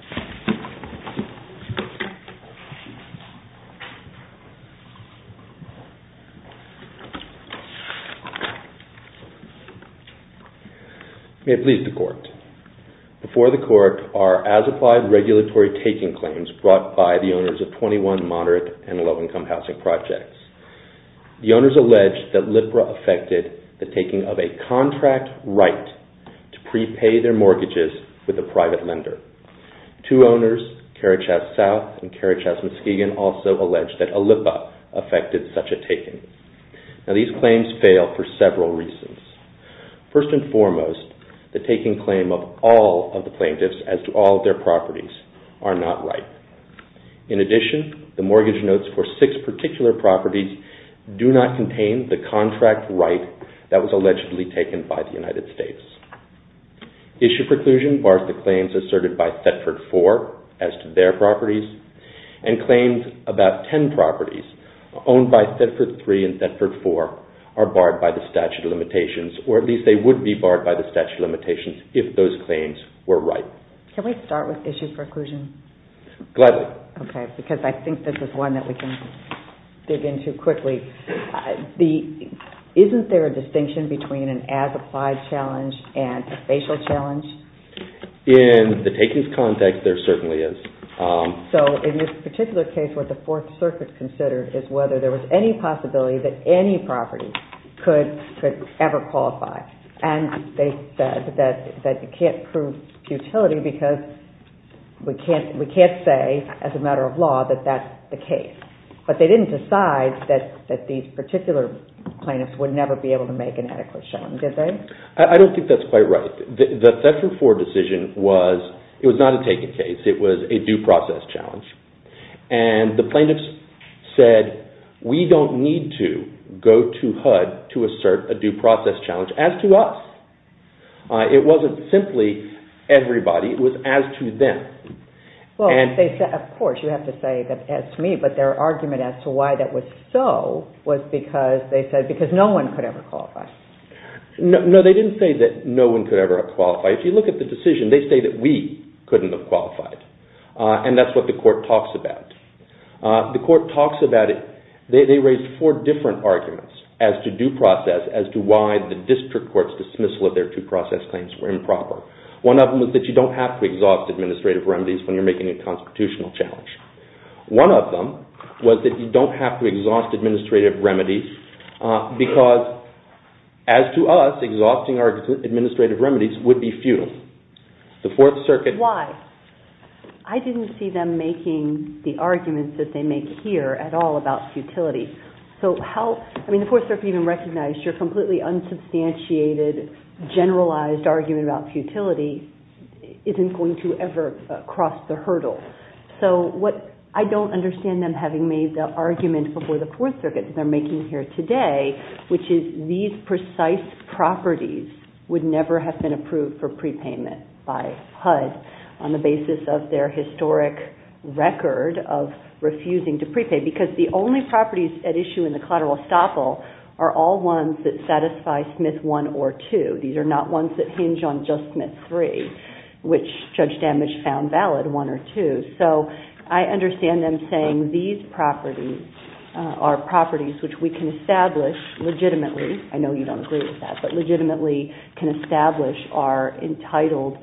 May it please the Court. Before the Court are as applied regulatory taking claims brought by the owners of 21 moderate and low-income housing projects. The owners allege that LIPR affected the taking of a contract right to prepay their mortgages with a private lender. Two owners, Carachat South and Carachat Muskegon, also allege that a LIPR affected such a taking. Now these claims fail for several reasons. First and foremost, the taking claim of all of the plaintiffs as to all of their properties are not right. In addition, the mortgage notes for six particular properties do not contain the contract right that was allegedly taken by the United States. Issue preclusion bars the claims asserted by Thetford IV as to their properties and claims about ten properties owned by Thetford III and Thetford IV are barred by the statute of limitations or at least they would be barred by the statute of limitations if those claims were right. Can we start with issue preclusion? Gladly. Okay, because I think this is one that we can dig into quickly. Isn't there a distinction between an as-applied challenge and a spatial challenge? In the takings context, there certainly is. So in this particular case, what the Fourth Circuit considered is whether there was any possibility that any property could ever qualify. And they said that you can't prove futility But they didn't decide that these particular plaintiffs would never be able to make an adequate challenge, did they? I don't think that's quite right. The Thetford IV decision was, it was not a taking case, it was a due process challenge. And the plaintiffs said, we don't need to go to HUD to assert a due process challenge as to us. It wasn't simply everybody, it was as to them. Of course, you have to say that it's me, but their argument as to why that was so was because they said no one could ever qualify. No, they didn't say that no one could ever qualify. If you look at the decision, they say that we couldn't have qualified. And that's what the court talks about. The court talks about it, they raise four different arguments as to due process as to why the district court's dismissal of their due process claims were improper. One of them was that you don't have to exhaust administrative remedies when you're making a constitutional challenge. One of them was that you don't have to exhaust administrative remedies because, as to us, exhausting our administrative remedies would be futile. The Fourth Circuit... Why? I didn't see them making the arguments that they make here at all about futility. So how... I mean, the Fourth Circuit even recognized your completely unsubstantiated, generalized argument about futility isn't going to ever cross the hurdle. So what... I don't understand them having made the argument before the Fourth Circuit that they're making here today, which is these precise properties would never have been approved for prepayment by HUD on the basis of their historic record of refusing to prepay, because the only properties at issue in the collateral estoppel are all ones that satisfy Smith I or II. These are not ones that hinge on just Smith III, which Judge Dammisch found valid, I or II. So I understand them saying these properties are properties which we can establish legitimately. I know you don't agree with that, but legitimately can establish are entitled...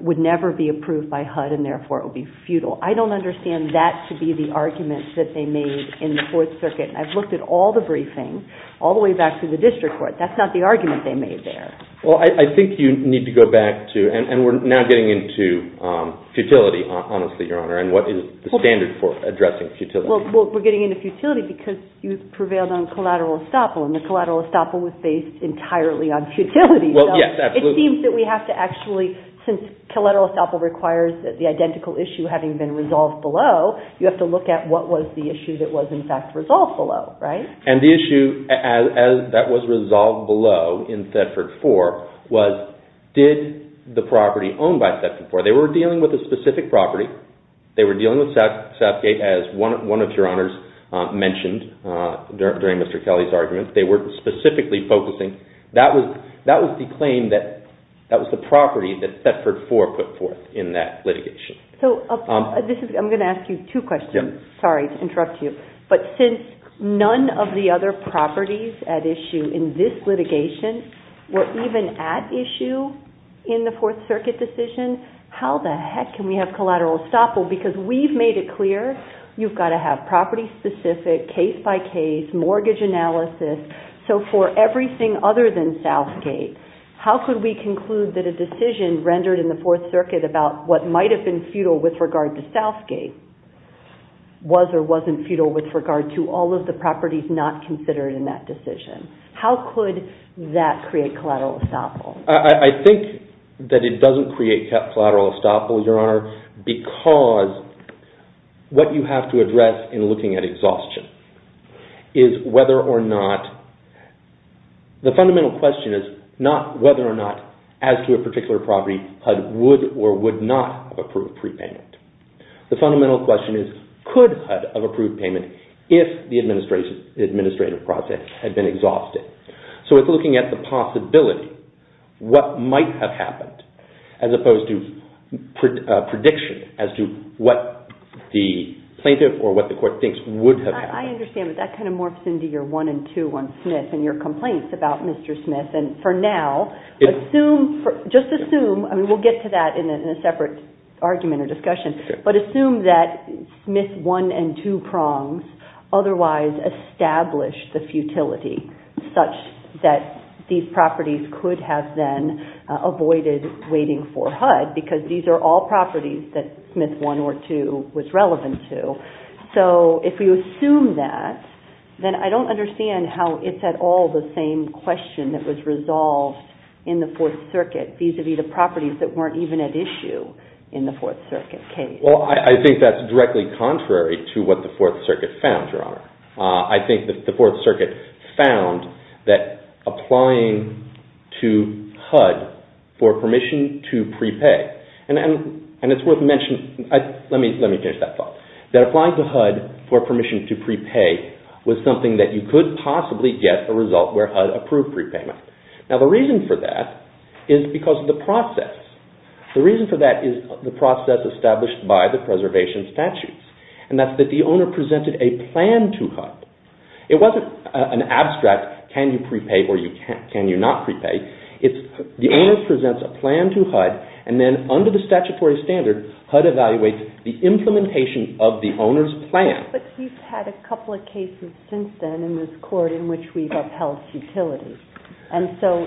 would never be approved by HUD, and therefore it would be futile. I don't understand that to be the argument that they made in the Fourth Circuit. I've looked at all the briefings, all the way back to the district court. That's not the argument they made there. Well, I think you need to go back to... and we're now getting into futility, honestly, Your Honor, and what is the standard for addressing futility. Well, we're getting into futility because you prevailed on collateral estoppel, and the collateral estoppel was based entirely on futility. Well, yes, absolutely. It seems that we have to actually... since collateral estoppel requires the identical issue having been resolved below, you have to look at what was the issue that was in fact resolved below, right? And the issue that was resolved below in Thetford 4 was did the property owned by Thetford 4... they were dealing with a specific property. They were dealing with Southgate, as one of Your Honors mentioned during Mr. Kelly's argument. They were specifically focusing... that was the claim that... that was the property that Thetford 4 put forth in that litigation. So this is... I'm going to ask you two questions. Sorry to interrupt you, but since none of the other properties at issue in this litigation were even at issue in the Fourth Circuit decision, how the heck can we have collateral estoppel? Because we've made it clear you've got to have property-specific, case-by-case, mortgage analysis. So for everything other than Southgate, how could we conclude that a decision rendered in the Fourth Circuit about what might have been futile with regard to Southgate was or wasn't futile with regard to all of the properties not considered in that decision? How could that create collateral estoppel? I think that it doesn't create collateral estoppel, Your Honor, because what you have to address in looking at exhaustion is whether or not... the fundamental question is not whether or not, as to a particular property, HUD would or would not approve prepayment. The fundamental question is could HUD have approved payment if the administrative process had been exhausted. So it's looking at the possibility, what might have happened, as opposed to prediction as to what the plaintiff or what the court thinks would have happened. I understand, but that kind of morphs into your one and two on Smith and your complaints about Mr. Smith. And for now, just assume... I mean, we'll get to that in a separate argument or discussion. But assume that Smith one and two prongs otherwise established the futility such that these properties could have been avoided waiting for HUD because these are all properties that Smith one or two was relevant to. So if you assume that, then I don't understand how it's at all the same question that was resolved in the Fourth Circuit vis-à-vis the properties that weren't even at issue in the Fourth Circuit case. Well, I think that's directly contrary to what the Fourth Circuit found, Your Honor. I think that the Fourth Circuit found that applying to HUD for permission to prepay... And it's worth mentioning... Let me finish that thought. That applying to HUD for permission to prepay was something that you could possibly get a result where HUD approved prepayment. Now, the reason for that is because of the process. The reason for that is the process established by the preservation statutes. And that's that the owner presented a plan to HUD. It wasn't an abstract, can you prepay or can you not prepay? It's the owner presents a plan to HUD and then under the statutory standard, HUD evaluates the implementation of the owner's plan. But we've had a couple of cases since then in this court in which we've upheld futility. And so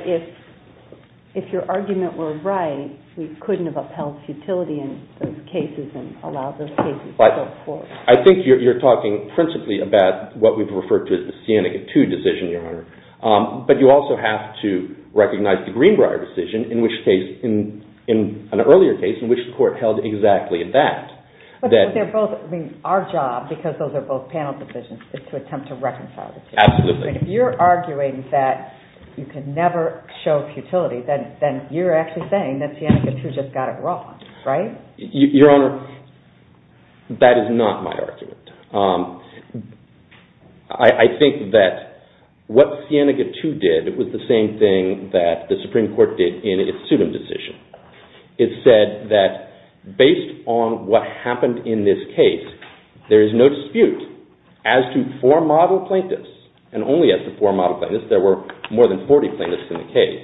if your argument were right, we couldn't have upheld futility in those cases and allowed those cases to go forth. I think you're talking principally about what we've referred to as the Scenic 2 decision, Your Honor. But you also have to recognize the Greenbrier decision in which case, in an earlier case, in which court held exactly that. But they're both, I mean, our job, because those are both panel decisions, is to attempt to reconcile the two. Absolutely. But if you're arguing that you can never show futility, then you're actually saying that Scenic 2 just got it wrong, right? Your Honor, that is not my argument. I think that what Scenic 2 did was the same thing that the Supreme Court did in its student decision. It said that based on what happened in this case, there is no dispute as to four model plaintiffs, and only as to four model plaintiffs, there were more than 40 plaintiffs in the case.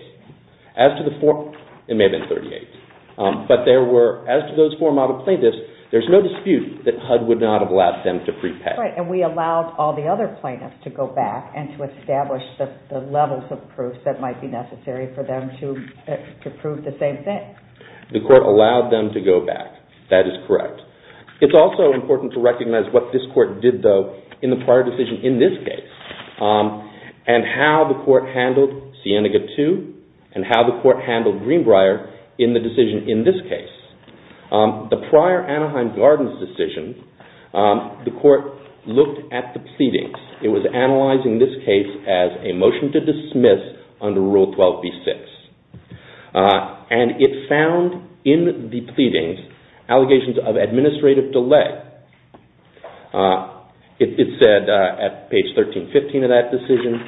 As to the four, there may have been 38. But there were, as to those four model plaintiffs, there's no dispute that HUD would not have allowed them to prepay. Right, and we allowed all the other plaintiffs to go back and to establish the levels of proof that might be necessary for them to prove the same thing. The court allowed them to go back. That is correct. It's also important to recognize what this court did, though, in the prior decision in this case, and how the court handled Scenic 2 and how the court handled Greenbrier in the decision in this case. The prior Anaheim Gardens decision, the court looked at the pleadings. It was analyzing this case as a motion to dismiss under Rule 12b-6. And it found in the pleadings allegations of administrative delay. It said, at page 1315 of that decision,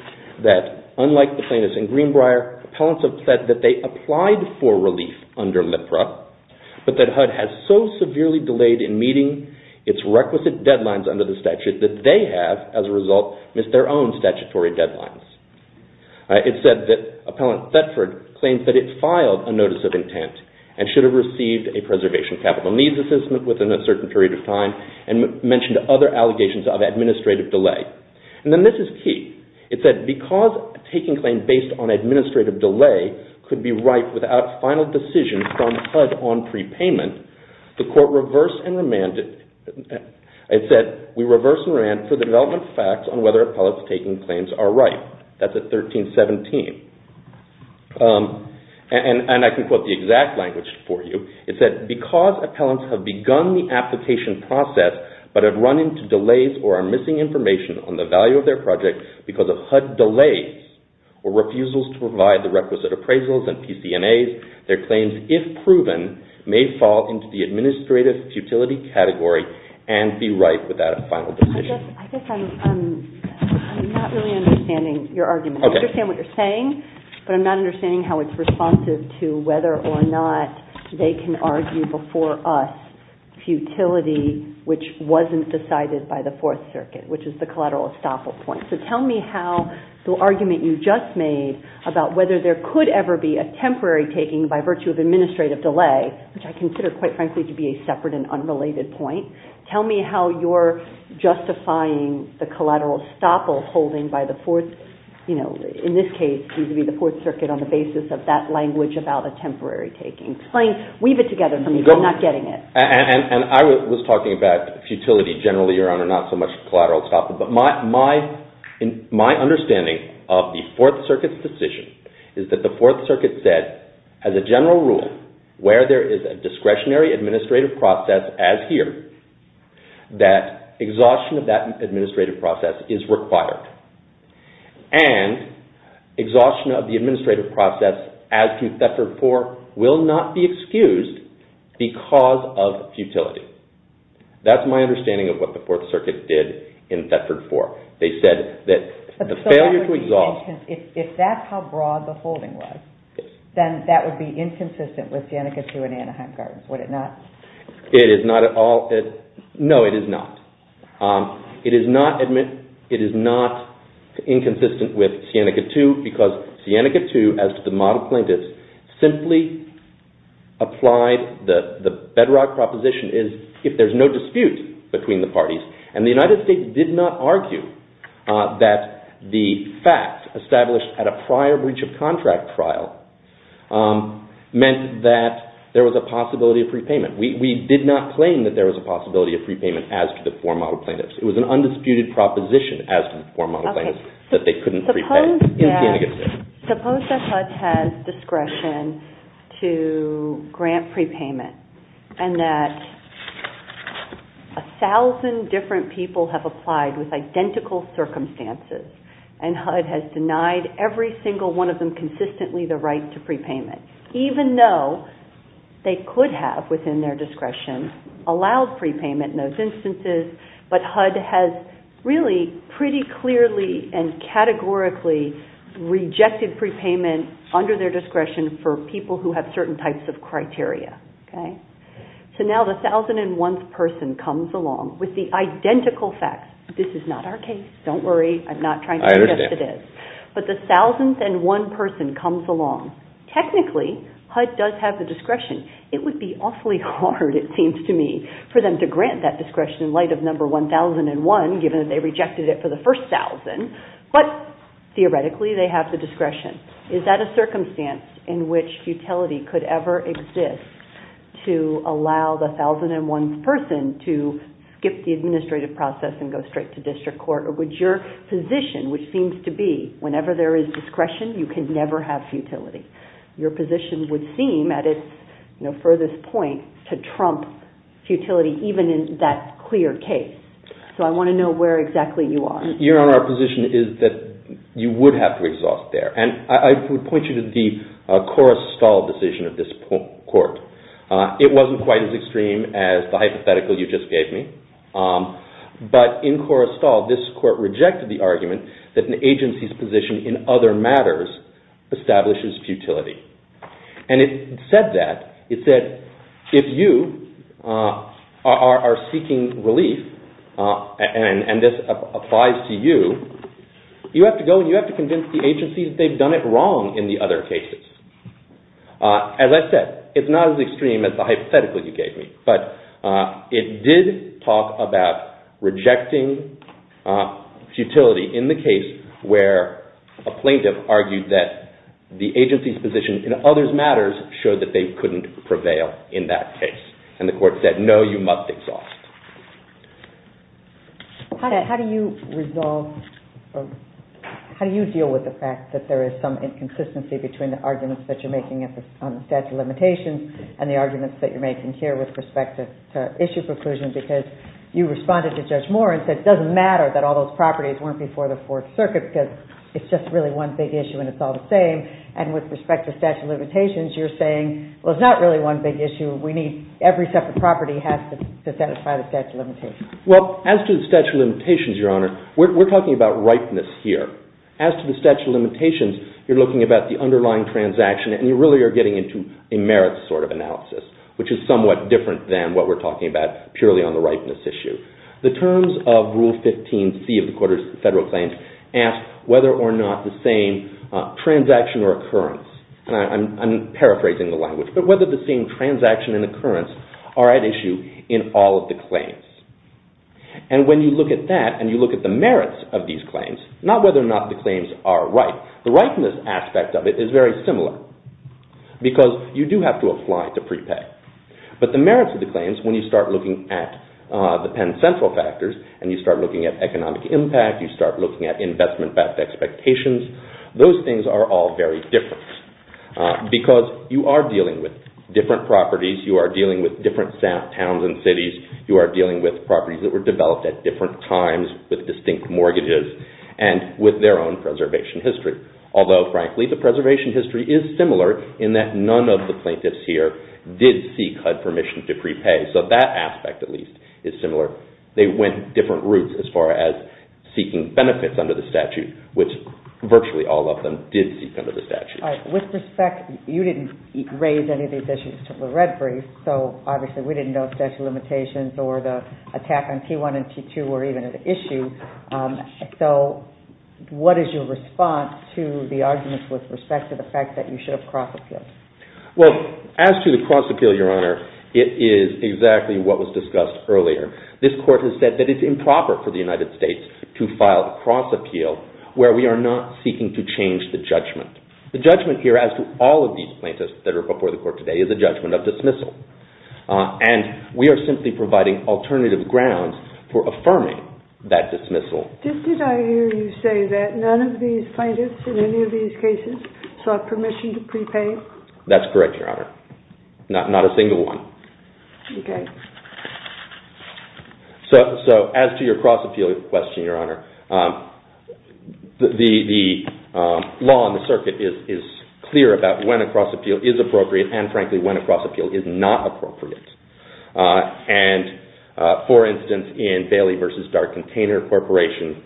that unlike the plaintiffs in Greenbrier, appellants have said that they applied for relief under LIPRA, but that HUD has so severely delayed in meeting its requisite deadlines under the statute that they have, as a result, missed their own statutory deadlines. It said that Appellant Thetford claims that it filed a notice of intent and should have received a Preservation Capital Needs Assessment within a certain period of time, and mentioned other allegations of administrative delay. And then this is key. It said, because taking claims based on administrative delay could be right without final decision from HUD on prepayment, the court reversed and remanded... It said, we reversed and remanded for the development of facts on whether appellants taking claims are right. That's at 1317. And I can quote the exact language for you. It said, because appellants have begun the application process but have run into delays or are missing information on the value of their project because of HUD delays or refusals to provide the requisite appraisals and PCNAs, their claims, if proven, may fall into the administrative futility category and be right without a final decision. I guess I'm not really understanding your argument. I understand what you're saying, but I'm not understanding how it's responsive to whether or not they can argue before us futility which wasn't decided by the Fourth Circuit, which is the collateral estoppel point. So tell me how the argument you just made about whether there could ever be a temporary taking by virtue of administrative delay, which I consider, quite frankly, to be a separate and unrelated point, tell me how you're justifying the collateral estoppel holding by the Fourth, you know, in this case, seems to be the Fourth Circuit on the basis of that language about a temporary taking. Explain, weave it together for me, I'm not getting it. And I was talking about futility generally around a not-so-much collateral estoppel, but my understanding of the Fourth Circuit's decision is that the Fourth Circuit said, as a general rule, where there is a discretionary administrative process, as here, that exhaustion of that administrative process is required. And exhaustion of the administrative process as to Thetford IV will not be excused because of futility. That's my understanding of what the Fourth Circuit did in Thetford IV. They said that the failure to exhaust... If that's how broad the holding was, then that would be inconsistent with Danica Sioux and Anaheim Gardens, would it not? It is not at all. No, it is not. It is not inconsistent with Sienica II because Sienica II, as to the model plaintiffs, simply applied the bedrock proposition is if there's no dispute between the parties. And the United States did not argue that the fact established at a prior breach of contract trial meant that there was a possibility of free payment. We did not claim that there was a possibility of free payment as to the four model plaintiffs. It was an undisputed proposition as to the four model plaintiffs that they couldn't free pay. Suppose that HUD has discretion to grant prepayment and that a thousand different people have applied with identical circumstances and HUD has denied every single one of them consistently the right to prepayment, even though they could have, within their discretion, allowed prepayment in those instances, but HUD has really pretty clearly and categorically rejected prepayment under their discretion for people who have certain types of criteria. So now the thousand and one person comes along with the identical facts. This is not our case, don't worry, I'm not trying to suggest it is. But the thousand and one person comes along. Technically, HUD does have the discretion. It would be awfully hard, it seems to me, for them to grant that discretion in light of number one thousand and one, given that they rejected it for the first thousand, but theoretically they have the discretion. Is that a circumstance in which futility could ever exist to allow the thousand and one person to skip the administrative process and go straight to district court? Or would your position, which seems to be whenever there is discretion, you can never have futility. Your position would seem, at its furthest point, to trump futility even in that clear case. So I want to know where exactly you are. Your Honor, our position is that you would have to exhaust there. And I would point you to the Korrestal decision of this court. It wasn't quite as extreme as the hypothetical you just gave me. But in Korrestal, this court rejected the argument that an agency's position in other matters establishes futility. And it said that. It said, if you are seeking relief, and this applies to you, you have to go and you have to convince the agency that they've done it wrong in the other cases. And like I said, it's not as extreme as the hypothetical you gave me. But it did talk about rejecting futility in the case where a plaintiff argued that the agency's position in other matters showed that they couldn't prevail in that case. And the court said, no, you must exhaust. How do you deal with the fact that there is some inconsistency between the arguments that you're making on the statute of limitations and the arguments that you're making here with respect to issue preclusion because you responded to Judge Moore and said it doesn't matter that all those properties weren't before the Fourth Circuit because it's just really one big issue and it's all the same. And with respect to statute of limitations, you're saying, well, it's not really one big issue. We need every separate property has to satisfy the statute of limitations. Well, as to the statute of limitations, Your Honor, we're talking about ripeness here. As to the statute of limitations, you're looking at the underlying transaction and you really are getting into a merits sort of analysis, which is somewhat different than what we're talking about purely on the ripeness issue. The terms of Rule 15C of the Court of Federal Claims ask whether or not the same transaction or occurrence, I'm paraphrasing the language, but whether the same transaction and occurrence are at issue in all of the claims. And when you look at that and you look at the merits of these claims, not whether or not the claims are right, the ripeness aspect of it is very similar because you do have to apply to prepay. But the merits of the claims, when you start looking at the Penn Central factors and you start looking at economic impact, you start looking at investment expectations, those things are all very different because you are dealing with different properties, you are dealing with different towns and cities, you are dealing with properties that were developed at different times with distinct mortgages and with their own preservation history. Although, frankly, the preservation history is similar in that none of the plaintiffs here did seek HUD permission to prepay. So that aspect, at least, is similar. They went different routes as far as seeking benefits under the statute, which virtually all of them did seek under the statute. With respect, you didn't raise any of these issues to the referees, so obviously we didn't know if statute of limitations or the attack on T1 and T2 were even an issue. So what is your response to the arguments with respect to the fact that you should have cross-appealed? Well, as to the cross-appeal, Your Honor, it is exactly what was discussed earlier. This court has said that it's improper for the United States to file a cross-appeal where we are not seeking to change the judgment. The judgment here, as to all of these plaintiffs that are before the court today, is a judgment of dismissal. And we are simply providing alternative grounds for affirming that dismissal. Did I hear you say that none of these plaintiffs in any of these cases sought permission to prepay? That's correct, Your Honor. Not a single one. So, as to your cross-appeal question, Your Honor, the law on the circuit is clear about when a cross-appeal is appropriate and, frankly, when a cross-appeal is not appropriate. And, for instance, in Bailey v. Dark Container Corporation,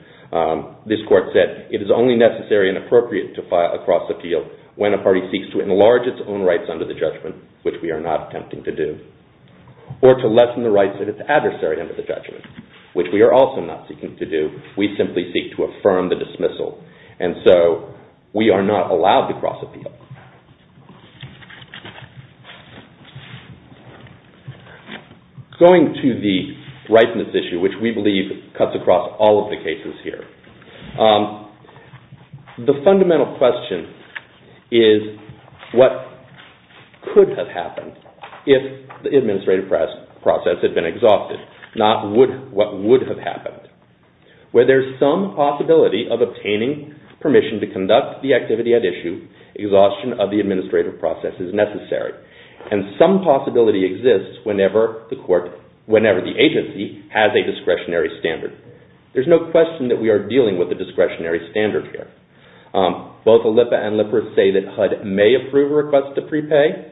this court said it is only necessary and appropriate to file a cross-appeal when a party seeks to enlarge its own rights under the judgment, which we are not attempting to do, or to lessen the rights of its adversary under the judgment, which we are also not seeking to do. We simply seek to affirm the dismissal. And so we are not allowed to cross-appeal. Going to the rightness issue, which we believe cuts across all of the cases here, the fundamental question is what could have happened if the administrative process had been exhausted, not what would have happened. Where there's some possibility of obtaining permission to conduct the activity at issue, exhaustion of the administrative process is necessary. And some possibility exists whenever the agency has a discretionary standard. There's no question that we are dealing with a discretionary standard here. Both ALIPA and LIPR say that HUD may approve a request to prepay.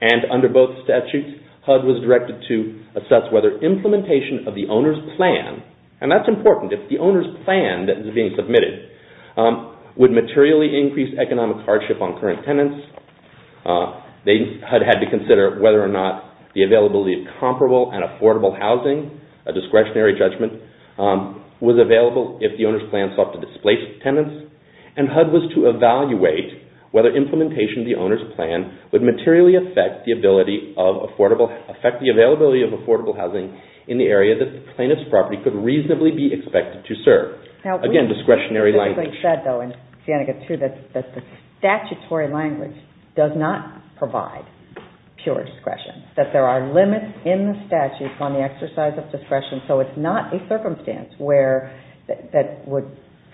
And under both statutes, HUD was directed to assess whether implementation of the owner's plan, and that's important, if the owner's plan that is being submitted would materially increase economic hardship on current tenants, HUD had to consider whether or not the availability of comparable and affordable housing, a discretionary judgment, was available if the owner's plan sought to displace tenants, and HUD was to evaluate whether implementation of the owner's plan would materially affect the availability of affordable housing in the area that the tenant's property could reasonably be expected to serve. Again, discretionary language. We said, though, in Sienega, too, that the statutory language does not provide pure discretion, that there are limits in the statute on the exercise of discretion, so it's not a circumstance that would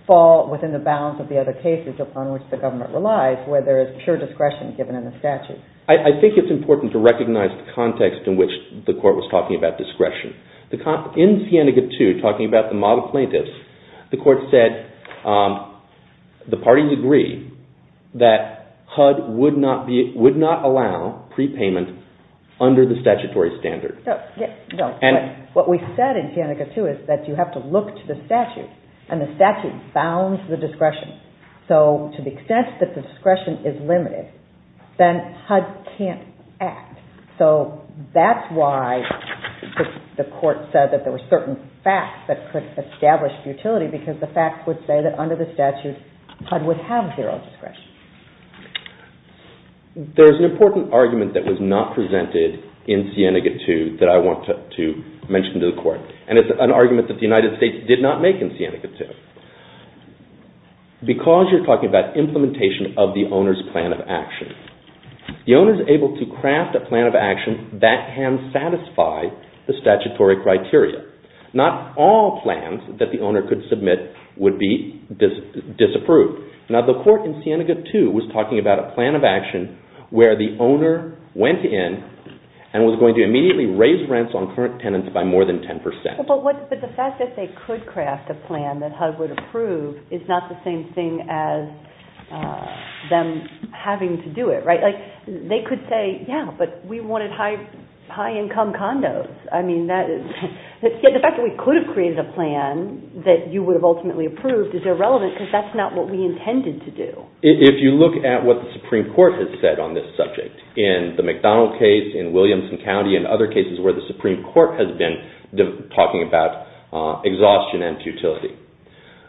fall within the bounds of the other cases upon which the government relies, where there is pure discretion given in the statute. I think it's important to recognize the context in which the court was talking about discretion. In Sienega, too, talking about the model plaintiffs, the court said the parties agree that HUD would not allow prepayment under the statutory standard. What we said in Sienega, too, is that you have to look to the statute, and the statute bounds the discretion. So to the extent that the discretion is limited, then HUD can't act. So that's why the court said that there were certain facts that could establish futility, because the facts would say that under the statute, HUD would have zero discretion. There's an important argument that was not presented in Sienega, too, that I want to mention to the court, and it's an argument that the United States did not make in Sienega, too. Because you're talking about implementation of the owner's plan of action, the owner is able to craft a plan of action that can satisfy the statutory criteria. Not all plans that the owner could submit would be disapproved. Now, the court in Sienega, too, was talking about a plan of action where the owner went in and was going to immediately raise rents on current tenants by more than 10%. But the fact that they could craft a plan that HUD would approve is not the same thing as them having to do it, right? Like, they could say, yeah, but we wanted high-income condos. I mean, the fact that we could have created a plan that you would have ultimately approved is irrelevant because that's not what we intended to do. If you look at what the Supreme Court has said on this subject, in the McDonald case, in Williamson County, and other cases where the Supreme Court has been talking about exhaustion and futility,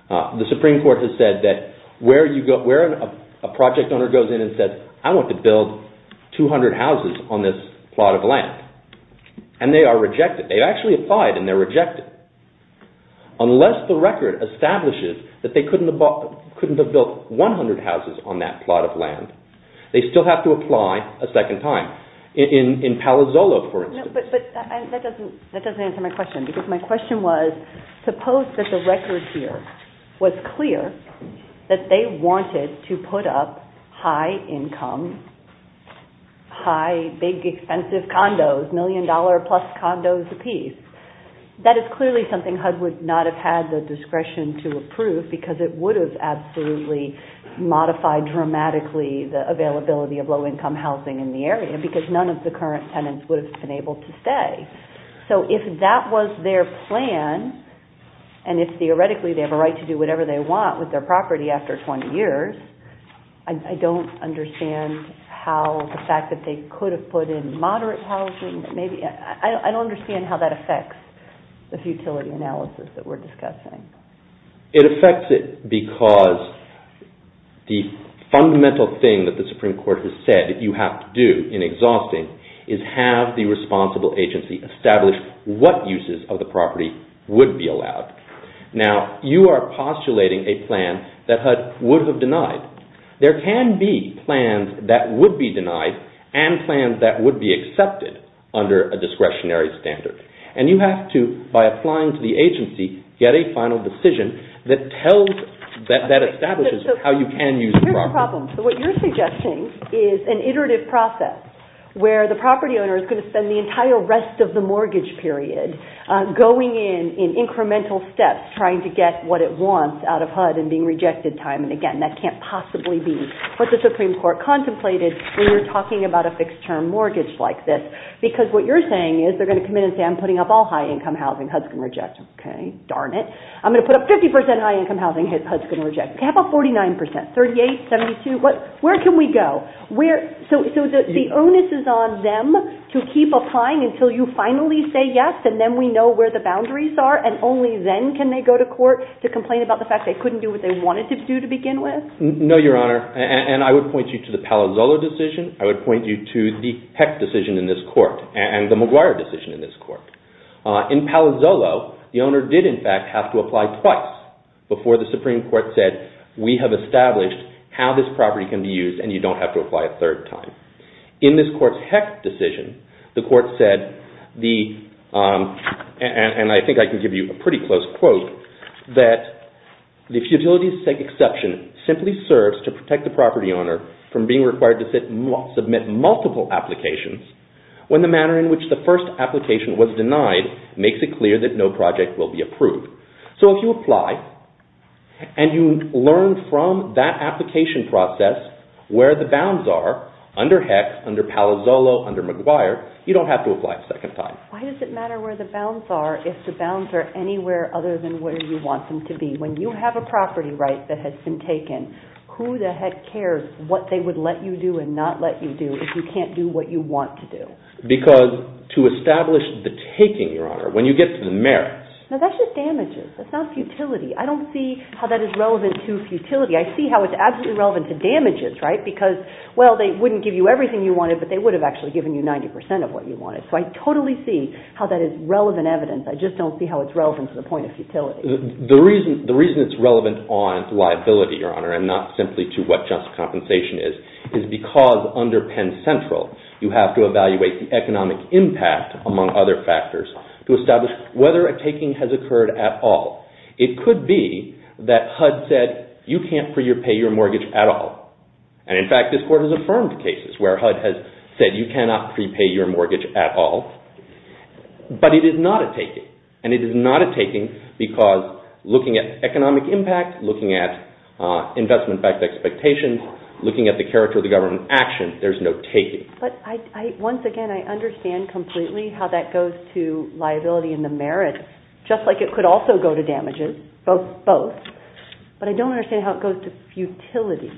the Supreme Court has said that where a project owner goes in and says, I want to build 200 houses on this plot of land, and they are rejected. They actually applied, and they're rejected. Unless the record establishes that they couldn't have built 100 houses on that plot of land, they still have to apply a second time. In Palo Zolo, for instance. But that doesn't answer my question because my question was, suppose that the record here was clear that they wanted to put up high-income, high, big, expensive condos, million-dollar-plus condos apiece. That is clearly something HUD would not have had the discretion to approve because it would have absolutely modified dramatically the availability of low-income housing in the area because none of the current tenants would have been able to stay. So if that was their plan, and if theoretically they have a right to do whatever they want with their property after 20 years, I don't understand how the fact that they could have put in moderate housing, I don't understand how that affects the futility analysis that we're discussing. It affects it because the fundamental thing that the Supreme Court has said that you have to do in exhausting is have the responsible agency establish what uses of the property would be allowed. Now, you are postulating a plan that HUD would have denied. There can be plans that would be denied and plans that would be accepted under a discretionary standard. And you have to, by applying to the agency, get a final decision that tells, that establishes how you can use the property. What you're suggesting is an iterative process where the property owner is going to spend the entire rest of the mortgage period going in in incremental steps trying to get what it wants out of HUD and being rejected time and again. That can't possibly be what the Supreme Court contemplated when you're talking about a fixed term mortgage like this. Because what you're saying is they're going to come in and say I'm putting up all high-income housing. HUD's going to reject it. Okay, darn it. I'm going to put up 50% high-income housing. HUD's going to reject it. How about 49%? 38? 72? Where can we go? So the onus is on them to keep applying until you finally say yes and then we know where the boundaries are and only then can they go to court to complain about the fact they couldn't do what they wanted to do to begin with? No, Your Honor. And I would point you to the Palazzolo decision. I would point you to the Hecht decision in this court and the Maguire decision in this court. In Palazzolo, the owner did in fact have to apply twice before the Supreme Court said we have established how this property can be used and you don't have to apply a third time. In this court's Hecht decision, the court said the, and I think I can give you a pretty close quote, that the futility exception simply serves to protect the property owner from being required to submit multiple applications when the manner in which the first application was denied makes it clear that no project will be approved. So if you apply and you learn from that application process where the bounds are under Hecht, under Palazzolo, under Maguire, you don't have to apply a second time. Why does it matter where the bounds are if the bounds are anywhere other than where you want them to be? When you have a property right that has been taken, who the heck cares what they would let you do and not let you do if you can't do what you want to do? Because to establish the taking, Your Honor, when you get to the merits... No, that's just damages. That's not futility. I don't see how that is relevant to futility. I see how it's absolutely relevant to damages, right? Because, well, they wouldn't give you everything you wanted, but they would have actually given you 90% of what you wanted. So I totally see how that is relevant evidence. I just don't see how it's relevant to the point of futility. The reason it's relevant on liability, Your Honor, and not simply to what just compensation is, is because under Penn Central, you have to evaluate the economic impact, among other factors, to establish whether a taking has occurred at all. It could be that HUD said, you can't prepay your mortgage at all. And, in fact, this Court has affirmed cases where HUD has said you cannot prepay your mortgage at all. But it is not a taking. And it is not a taking because looking at economic impact, looking at investment-backed expectations, looking at the character of the government action, there's no taking. But, once again, I understand completely how that goes to liability and the merits, just like it could also go to damages, both. But I don't understand how it goes to futility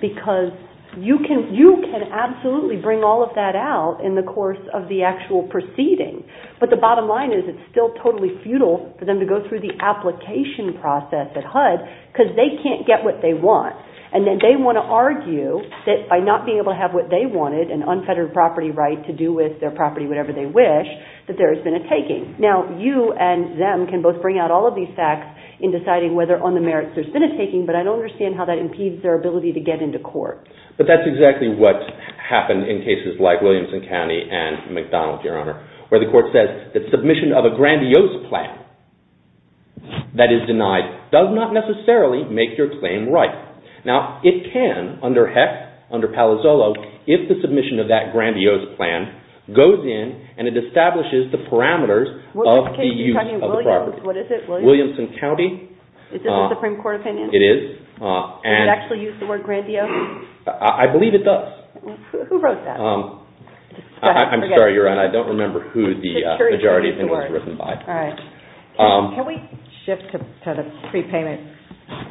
because you can absolutely bring all of that out in the course of the actual proceeding. But the bottom line is it's still totally futile for them to go through the application process at HUD because they can't get what they want. And then they want to argue that by not being able to have what they wanted, an unfettered property right to do with their property whenever they wish, that there has been a taking. Now, you and them can both bring out all of these facts in deciding whether on the merits there's been a taking, but I don't understand how that impedes their ability to get into court. But that's exactly what happened in cases like Williamson County and McDonald, Your Honor, where the court says, the submission of a grandiose plan that is denied does not necessarily make your claim right. Now, it can, under HEC, under Palazzolo, if the submission of that grandiose plan goes in and it establishes the parameters of the use of the property. What is it? Williamson County. Is this a Supreme Court opinion? It is. Does it actually use the word grandiose? I believe it does. Who wrote that? I'm sorry, Your Honor, I don't remember who the majority of it was written by. All right. Can we shift to the prepayment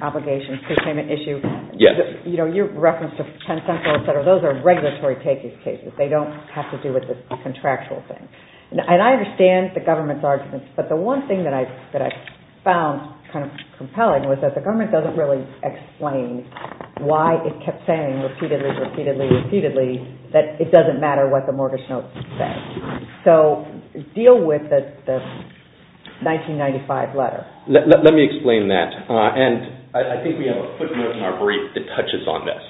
obligation, prepayment issue? Yes. Your reference to Penn Central, et cetera, those are regulatory cases. They don't have to do with the contractual thing. And I understand the government's arguments, but the one thing that I found kind of compelling was that the government doesn't really explain why it kept saying repeatedly, repeatedly, repeatedly that it doesn't matter what the mortgage notes say. So, deal with the 1995 letter. Let me explain that. And I think we have a quick note in our brief that touches on this.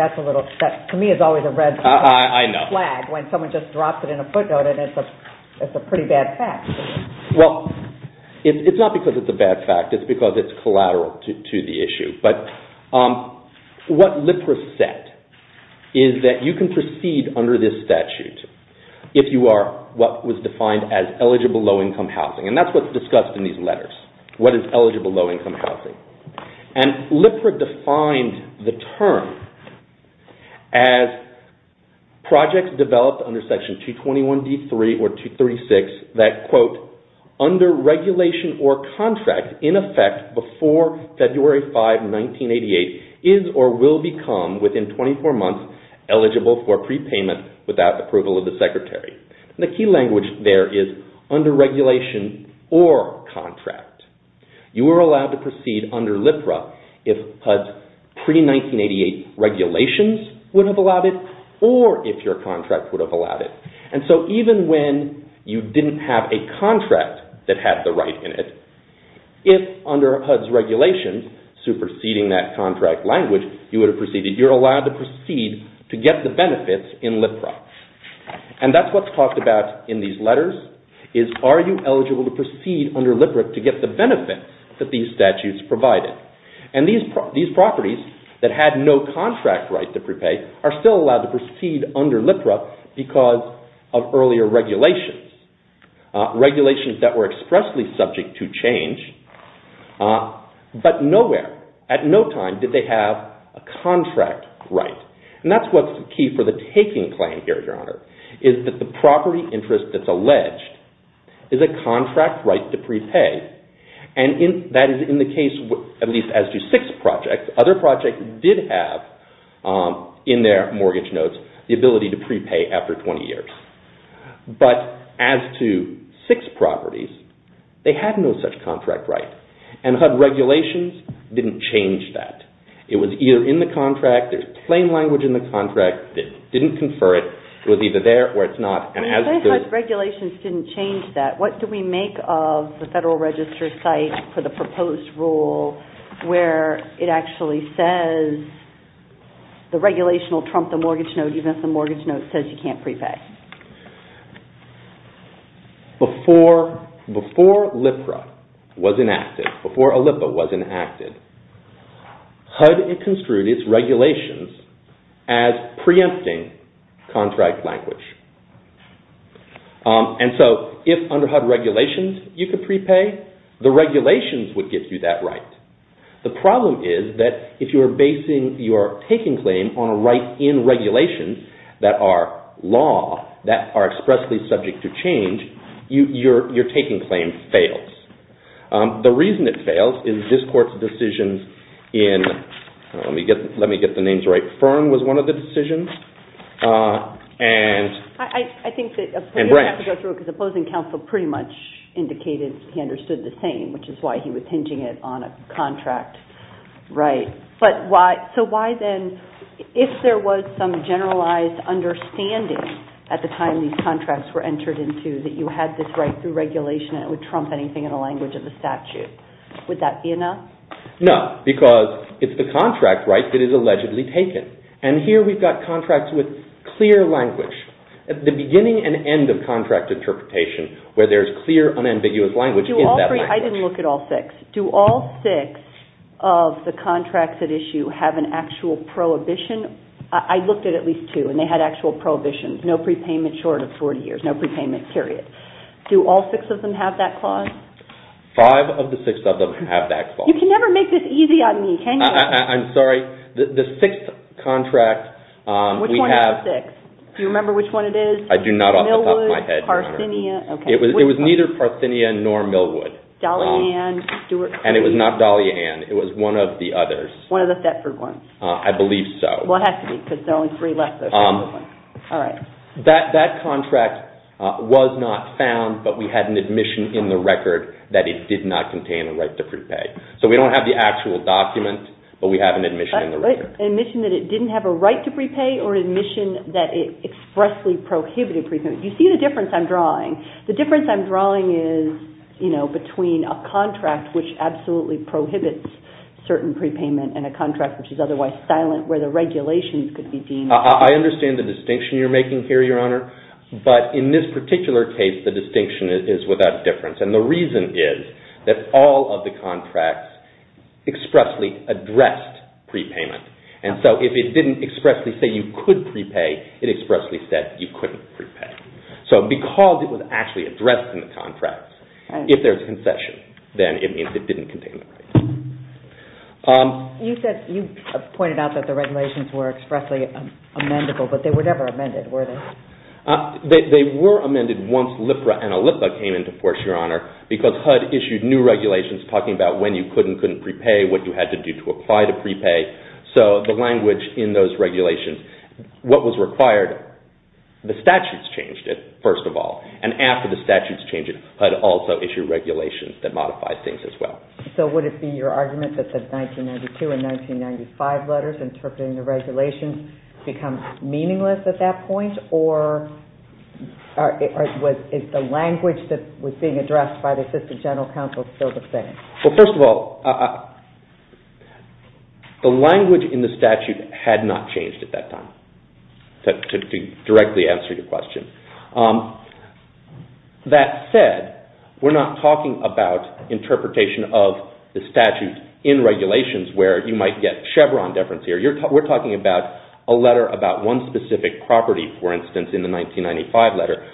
That's a little, to me it's always a red flag when someone just drops it in a footnote and it's a pretty bad fact. Well, it's not because it's a bad fact. It's because it's collateral to the issue. But what LIPRA said is that you can proceed under this statute if you are what was defined as eligible low-income housing. And that's what's discussed in these letters, what is eligible low-income housing. And LIPRA defined the term as projects developed under regulation or contract in effect before February 5, 1988 is or will become within 24 months eligible for prepayment without approval of the secretary. The key language there is under regulation or contract. You are allowed to proceed under LIPRA if pre-1988 regulations would have allowed it or if your contract would have allowed it. And so even when you didn't have a contract that had the right in it, if under HUD's regulations superseding that contract language, you would have proceeded. You're allowed to proceed to get the benefits in LIPRA. And that's what's talked about in these letters is are you eligible to proceed under LIPRA to get the benefits that these statutes provided. And these properties that had no contract right to prepay are still allowed to proceed under LIPRA because of earlier regulations, regulations that were expressly subject to change. But nowhere, at no time, did they have a contract right. And that's what's the key for the taking plan here, Your Honor, is that the property interest that's alleged is a contract right to prepay. And that is in the case of at least S2-6 projects. Other projects did have in their mortgage notes the ability to prepay after 20 years. But as to 6 properties, they had no such contract right. And HUD regulations didn't change that. It was either in the contract, it's plain language in the contract, it didn't confer it, it was either there or it's not. And HUD regulations didn't change that. What do we make of the Federal Register site for the proposed rule where it actually says the regulation will trump the mortgage note even if the mortgage note says you can't prepay? Before LIPRA was enacted, before OLIPA was enacted, HUD construed its regulations as preempting contract language. And so if under HUD regulations you could prepay, the regulations would get you that right. The problem is that if you're basing your taking claim on a right in regulations that are law, that are expressly subject to change, your taking claim fails. The reason it fails is this Court's decision in, let me get the names right, Fern was one of the decisions. I think the opposing counsel pretty much indicated he understood the same, which is why he was pinging it on a contract right. So why then, if there was some generalized understanding at the time these contracts were entered into that you had this right through regulation that would trump anything in the language of the statute, would that be enough? No, because it's the contract right that is allegedly taken. And here we've got contracts with clear language. At the beginning and end of contract interpretation where there's clear unambiguous language is that language. I didn't look at all six. Do all six of the contracts at issue have an actual prohibition? I looked at at least two and they had actual prohibitions. No prepayment short of 40 years, no prepayment period. Do all six of them have that clause? Five of the six of them have that clause. You can never make this easy on me, can you? I'm sorry. The sixth contract we have- Which one out of the six? Do you remember which one it is? I do not off the top of my head. Millwood, Parthenia, okay. It was neither Parthenia nor Millwood. Dolly Ann, Stewart- And it was not Dolly Ann. It was one of the others. One of the Thetford ones. I believe so. Well, it has to be because there are only three left. All right. That contract was not found, but we had an admission in the record that it did not contain a right to prepay. So we don't have the actual document, but we have an admission in the record. An admission that it didn't have a right to prepay or an admission that it expressly prohibited prepayment? You see the difference I'm drawing. The difference I'm drawing is between a contract which absolutely prohibits certain prepayment and a contract which is otherwise silent where the regulations could be deemed- I understand the distinction you're making here, Your Honor, but in this particular case, the distinction is without difference. And the reason is that all of the contracts expressly addressed prepayment. And so if it didn't expressly say you could prepay, it expressly said you couldn't prepay. So because it was actually addressed in the contract, if there's a concession, then it means it didn't contain a right. You pointed out that the regulations were expressly amendable, but they were never amended, were they? They were amended once LIPRA and ALIPPA came into force, Your Honor, because HUD issued new regulations talking about when you could and couldn't prepay, what you had to do to apply to prepay. So the language in those regulations, what was required, the statutes changed it, first of all. And after the statutes changed it, HUD also issued regulations that modified things as well. So would it be your argument that the 1992 and 1995 letters interpreting the regulations becomes meaningless at that point, or is the language that was being addressed by the Assistant General Counsel sort of saying? Well, first of all, the language in the statute had not changed at that time, to directly answer your question. That said, we're not talking about interpretation of the statute in regulations where you might get Chevron difference here. We're talking about a letter about one specific property, for instance, in the 1995 letter,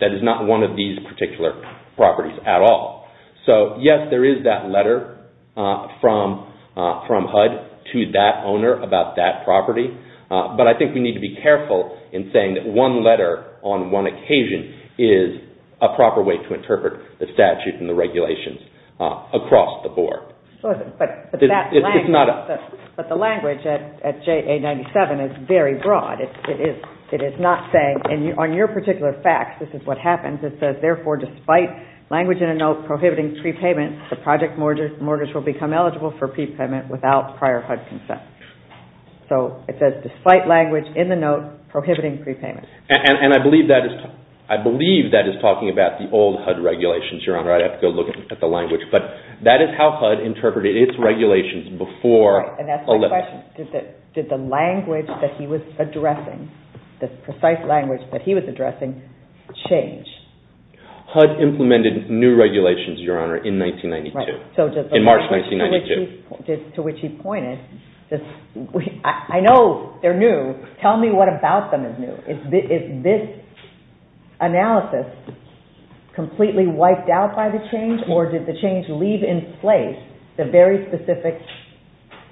that is not one of these particular properties at all. So, yes, there is that letter from HUD to that owner about that property, but I think we need to be careful in saying that one letter on one occasion is a proper way to interpret the statute and the regulations across the board. But the language at JA-97 is very broad. It is not saying, and on your particular fact, this is what happens, it says, therefore, despite language in the note prohibiting prepayment, the project mortgage will become eligible for prepayment without prior HUD consent. So it says, despite language in the note prohibiting prepayment. And I believe that is talking about the old HUD regulations, Your Honor. I have to look at the language. But that is how HUD interpreted its regulations before a letter. Did the language that he was addressing, the precise language that he was addressing, change? HUD implemented new regulations, Your Honor, in 1992, in March 1992. To which he pointed, I know they're new. Tell me what about them is new. Is this analysis completely wiped out by the change, or did the change leave in place the very specific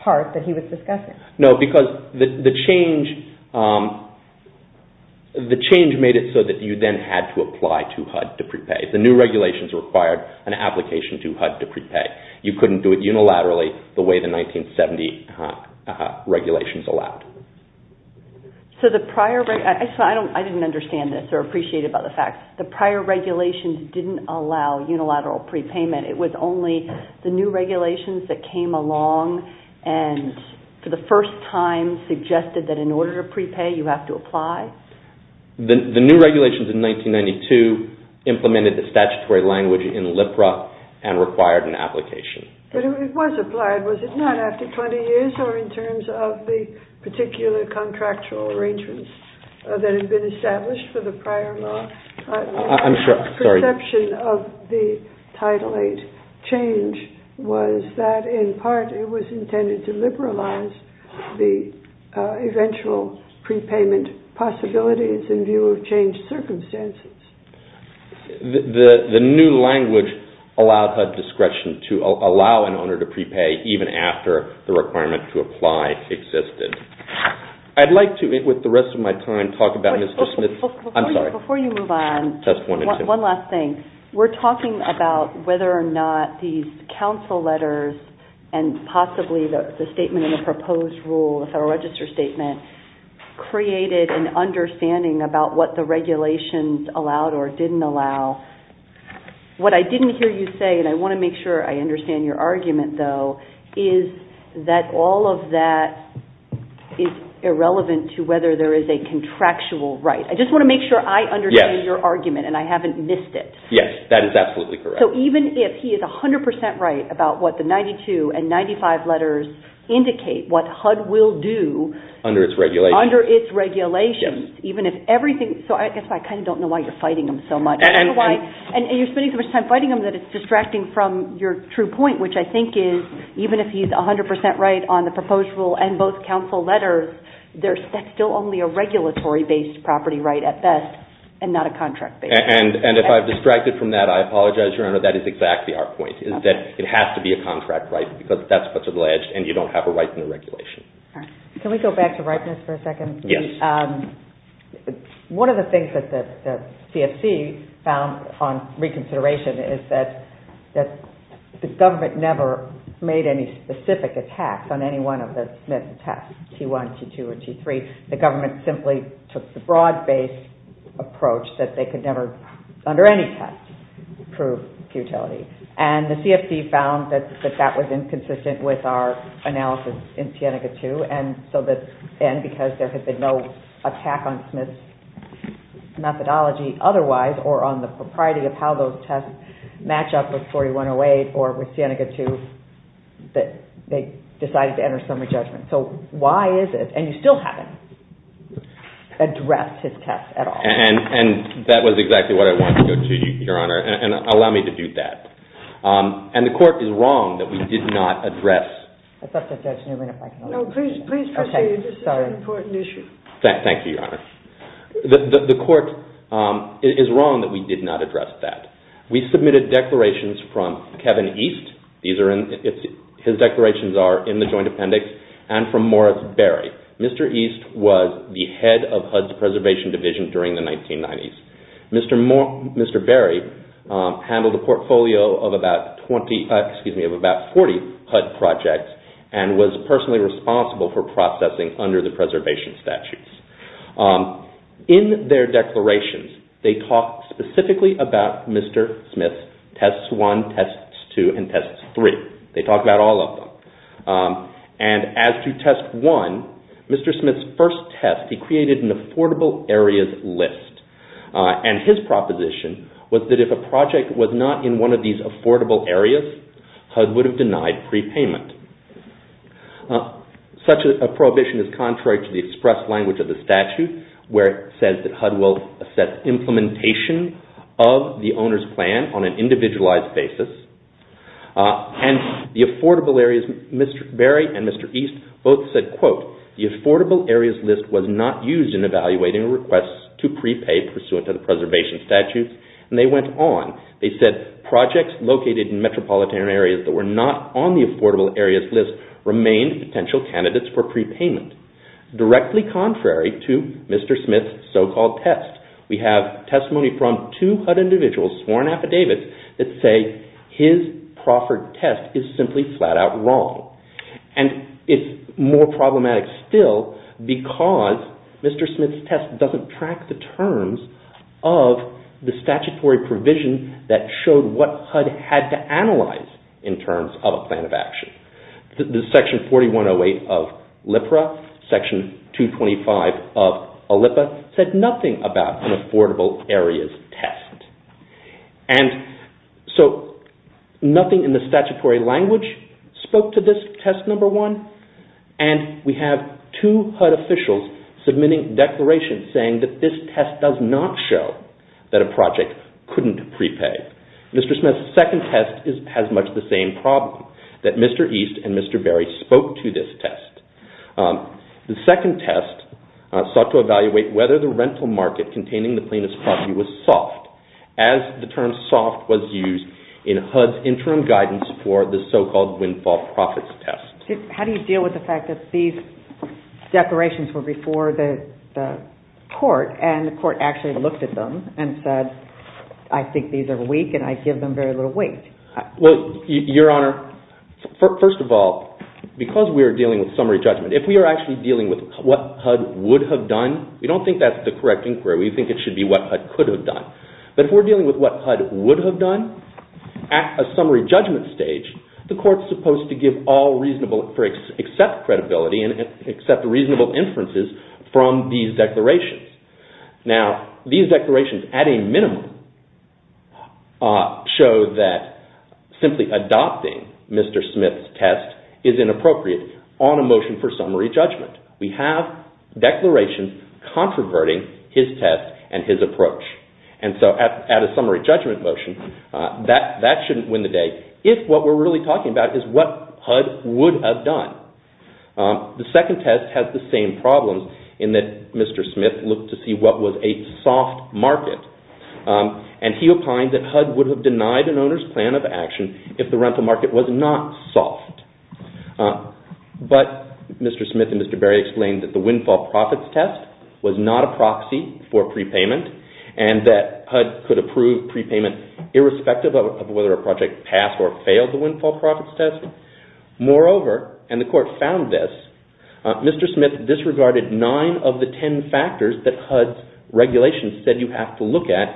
part that he was discussing? No, because the change made it so that you then had to apply to HUD to prepay. The new regulations required an application to HUD to prepay. You couldn't do it unilaterally the way the 1970 regulations allowed. So the prior, actually I didn't understand this or appreciate it by the fact, the prior regulations didn't allow unilateral prepayment. It was only the new regulations that came along and for the first time suggested that in order to prepay you have to apply? The new regulations in 1992 implemented the statutory language in LIPRA and required an application. But it was applied, was it not, after 20 years or in terms of the particular contractual arrangements that had been established for the prior law? I'm sorry. The perception of the Title VIII change was that in part it was intended to liberalize the eventual prepayment possibilities in view of changed circumstances. The new language allowed HUD discretion to allow an owner to prepay even after the requirement to apply existed. I'd like to, with the rest of my time, talk about this. Before you move on, one last thing. We're talking about whether or not these counsel letters and possibly the statement in the proposed rule, the Federal Register Statement, created an understanding about what the regulations allowed or didn't allow. What I didn't hear you say, and I want to make sure I understand your argument, though, is that all of that is irrelevant to whether there is a contractual right. I just want to make sure I understand your argument and I haven't missed it. Yes, that is absolutely correct. Even if he is 100% right about what the 92 and 95 letters indicate, what HUD will do under its regulations, even if everything... That's why I kind of don't know why you're fighting him so much. You're spending so much time fighting him that it's distracting from your true point, which I think is even if he's 100% right on the proposed rule and both counsel letters, that's still only a regulatory-based property right at best and not a contract-based. And if I've distracted from that, I apologize, Your Honor, that is exactly our point. It has to be a contract right because that's what's alleged and you don't have a right in the regulation. Can we go back to Reitman for a second? Yes. One of the things that the CFC found on reconsideration is that the government never made any specific attacks on any one of the tests, T1, T2 or T3. The government simply took the broad-based approach that they could never, under any test, prove futility. And the CFC found that that was inconsistent with our analysis in Sienega II and because there had been no attack on Smith's methodology otherwise or on the propriety of how those tests match up with 4108 or with Sienega II, they decided to enter summary judgment. So why is it, and you still haven't addressed his test at all? And that was exactly what I wanted to do, Your Honor, and allow me to do that. And the court is wrong that we did not address... I thought the judge knew we were not going to... No, please proceed. This is an important issue. Thank you, Your Honor. The court is wrong that we did not address that. We submitted declarations from Kevin East. His declarations are in the joint appendix and from Morris Berry. Mr. East was the head of HUD's preservation division during the 1990s. Mr. Berry handled a portfolio of about 40 HUD projects and was personally responsible for processing under the preservation statutes. In their declarations, they talk specifically about Mr. Smith's Tests I, Tests II and Tests III. They talk about all of them. And as to Test I, Mr. Smith's first test, he created an affordable areas list. And his proposition was that if a project was not in one of these affordable areas, HUD would have denied prepayment. Such a prohibition is contrary to the express language of the statute where it says that HUD will assess implementation of the owner's plan on an individualized basis. And the affordable areas, Mr. Berry and Mr. East both said, quote, the affordable areas list was not used in evaluating requests to prepay pursuant to the preservation statute. And they went on. They said projects located in metropolitan areas that were not on the affordable areas list remained potential candidates for prepayment. Directly contrary to Mr. Smith's so-called test, we have testimony from two HUD individuals sworn affidavits that say his proffered test is simply flat out wrong. And it's more problematic still because Mr. Smith's test doesn't track the terms of the statutory provision that showed what HUD had to analyze in terms of a plan of action. The section 4108 of LIPRA, section 225 of OLIPA said nothing about an affordable areas test. And so nothing in the statutory language spoke to this test number one. And we have two HUD officials submitting declarations saying that this test does not show that a project couldn't prepay. Mr. Smith's second test has much the same problem, that Mr. East and Mr. Berry spoke to this test. The second test sought to evaluate whether the rental market containing the plaintiff's property was soft, as the term soft was used in HUD's interim guidance for the so-called windfall profits test. How do you deal with the fact that these declarations were before the court and the court actually looked at them and said, I think these are weak and I give them very little weight? Well, Your Honor, first of all, because we are dealing with summary judgment, if we are actually dealing with what HUD would have done, we don't think that's the correct inquiry. We think it should be what HUD could have done. But if we're dealing with what HUD would have done, at a summary judgment stage, the court's supposed to give all reasonable or accept credibility and accept reasonable inferences from these declarations. Now, these declarations, at a minimum, show that simply adopting Mr. Smith's test is inappropriate on a motion for summary judgment. We have declarations controverting his test and his approach. And so at a summary judgment motion, that shouldn't win the day if what we're really talking about is what HUD would have done. The second test has the same problem in that Mr. Smith looked to see what was a soft market. And he opined that HUD would have denied an owner's plan of action if the rental market was not soft. But Mr. Smith and Mr. Berry explained that the windfall profits test was not a proxy for prepayment and that HUD could approve prepayments irrespective of whether a project passed or failed the windfall profits test. Moreover, and the court found this, Mr. Smith disregarded nine of the ten factors that HUD's regulations said you have to look at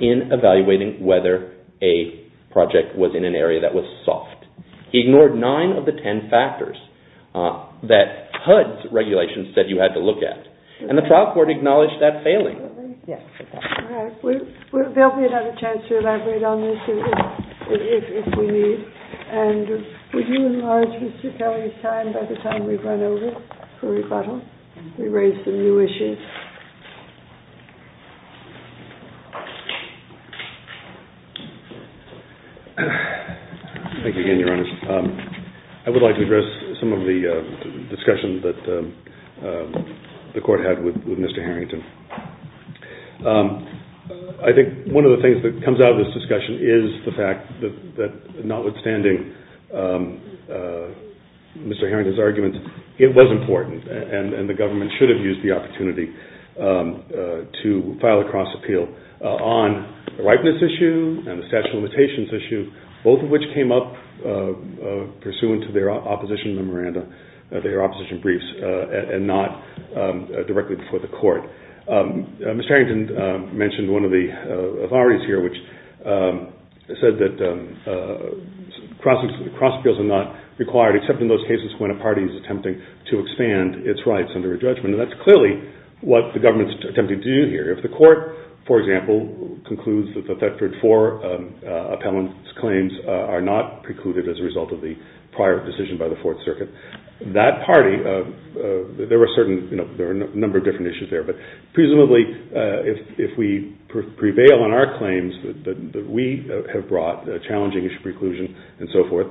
in evaluating whether a project was in an area that was soft. He ignored nine of the ten factors that HUD's regulations said you had to look at. And the trial court acknowledged that failing. All right. There'll be another chance to elaborate on this if we need. And would you enlarge Mr. Perry's time by the time we run over? We raised some new issues. Thank you again, Your Honor. I would like to address some of the discussions that the court had with Mr. Harrington. I think one of the things that comes out of this discussion is the fact that notwithstanding Mr. Harrington's arguments, it was important and the government should have used the opportunity to file a cross-appeal on the ripeness issue and the statute of limitations issue, both of which came up pursuant to their opposition memoranda, their opposition briefs, and not directly before the court. Mr. Harrington mentioned one of the authorities here which said that cross-appeals are not required except in those cases when a party is attempting to expand its rights under a judgment. And that's clearly what the government's attempting to do here. If the court, for example, concludes that the effectored for appellant's claims are not precluded as a result of the prior decision by the Fourth Circuit, that party, there are a number of different issues there, but presumably if we prevail on our claims that we have brought challenging preclusion and so forth,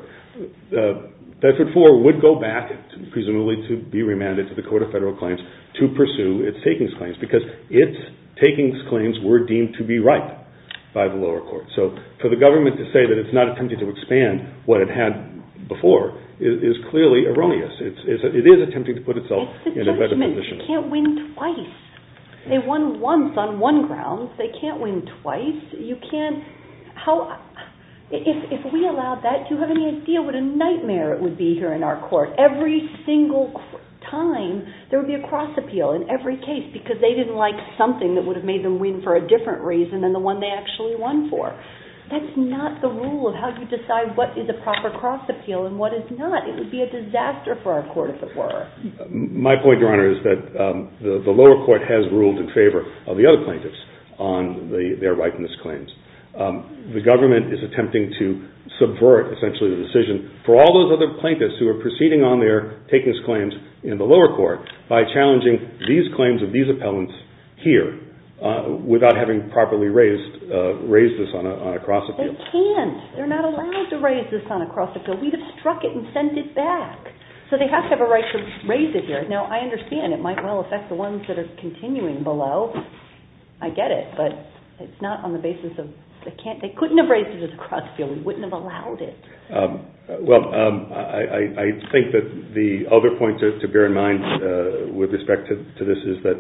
the effectored for would go back, presumably to be remanded to the Court of Federal Claims to pursue its takings claims because its takings claims were deemed to be right by the lower court. So for the government to say that it's not attempting to expand what it had before is clearly erroneous. It is attempting to put itself in a better position. You can't win twice. They won once on one grounds. They can't win twice. You can't... If we allowed that, do you have any idea what a nightmare it would be here in our court? Every single time there would be a cross-appeal in every case because they didn't like something that would have made them win for a different reason than the one they actually won for. That's not the rule of how you decide what is a proper cross-appeal and what is not. It would be a disaster for our court, if it were. My point, Your Honor, is that the lower court has ruled in favor of the other plaintiffs on their likeness claims. The government is attempting to subvert, essentially, the decision for all those other plaintiffs who are proceeding on their takings claims in the lower court by challenging these claims of these appellants here without having properly raised this on a cross-appeal. They can't. They're not allowed to raise this on a cross-appeal. We'd have struck it and sent it back. So they have to have a right to raise it here. Now, I understand it might well affect the ones that are continuing below. I get it, but it's not on the basis of... They couldn't have raised it as a cross-appeal. We wouldn't have allowed it. Well, I think that the other point to bear in mind with respect to this is that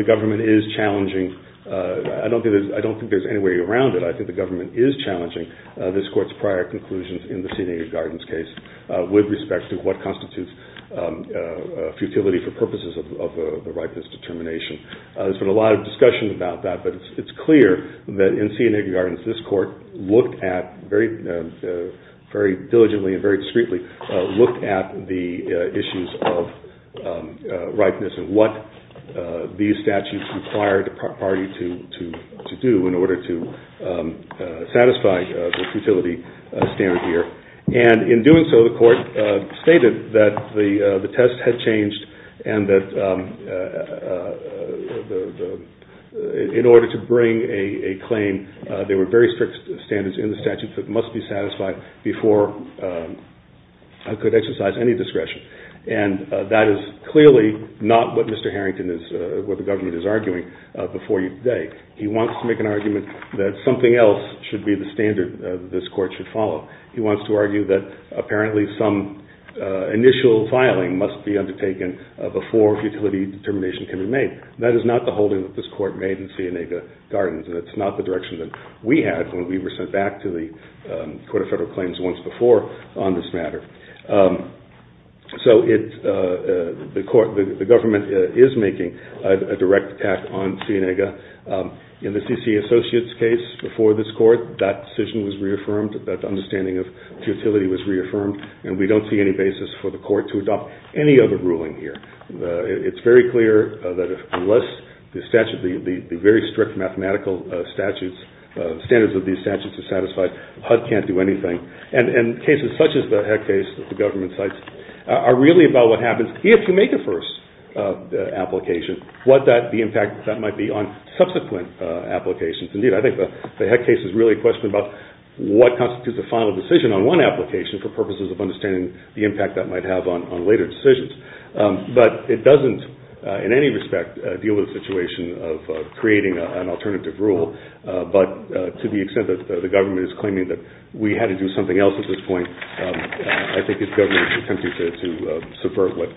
the government is challenging... I don't think there's any way around it. I think the government is challenging this court's prior conclusions in the C&AB Gardens case with respect to what constitutes futility for purposes of the right to this determination. There's been a lot of discussion about that, but it's clear that in C&AB Gardens, this court looked at, very diligently and very discreetly, looked at the issues of ripeness and what these statutes require the party to do in order to satisfy the futility standard here. And in doing so, the court stated that the test had changed and that in order to bring a claim, there were very strict standards in the statute that must be satisfied before I could exercise any discretion. And that is clearly not what Mr. Harrington is... what the government is arguing before you today. He wants to make an argument that something else should be the standard this court should follow. He wants to argue that apparently some initial filing must be undertaken before futility determination can be made. That is not the holding that this court made in C&AB Gardens. That's not the direction that we had when we were sent back to the Court of Federal Claims once before on this matter. So the government is making a direct attack on C&AB. In the C.C. Associates case before this court, that decision was reaffirmed, that understanding of futility was reaffirmed, and we don't see any basis for the court to adopt any other ruling here. It's very clear that unless the statute, the very strict mathematical statutes, the standards of these statutes are satisfied, HUD can't do anything. And cases such as the Heck case that the government cites are really about what happens if you make a first application, what the impact that might be on subsequent applications. Indeed, I think the Heck case is really a question about what constitutes a final decision on one application for purposes of understanding the impact that might have on later decisions. But it doesn't in any respect deal with a situation of creating an alternative rule, but to the extent that the government is claiming that we had to do something else at this point, I think it's government's tendency to subvert what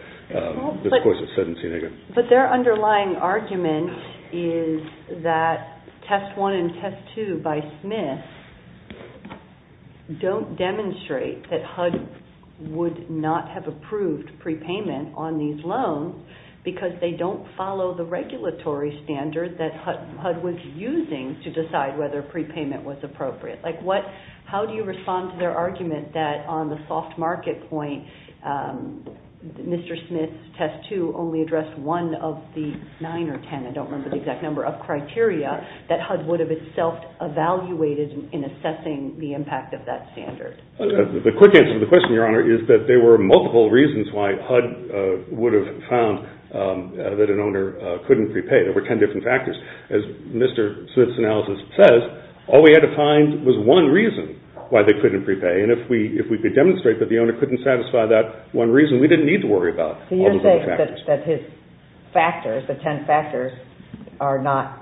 this Court has said in C&AB. But their underlying argument is that Test 1 and Test 2 by Smith don't demonstrate that HUD would not have approved prepayment on these loans because they don't follow the regulatory standard that HUD was using to decide whether prepayment was appropriate. How do you respond to their argument that on the soft market point, Mr. Smith's Test 2 only addressed one of the nine or ten, I don't remember the exact number, of criteria that HUD would have itself evaluated in assessing the impact of that standard? The quick answer to the question, Your Honor, is that there were multiple reasons why HUD would have found that an owner couldn't prepay. There were ten different factors. As Mr. Smith's analysis says, all we had to find was one reason why they couldn't prepay. And if we could demonstrate that the owner couldn't satisfy that one reason, we didn't need to worry about all the different factors. So you're saying that his factors, the ten factors, are not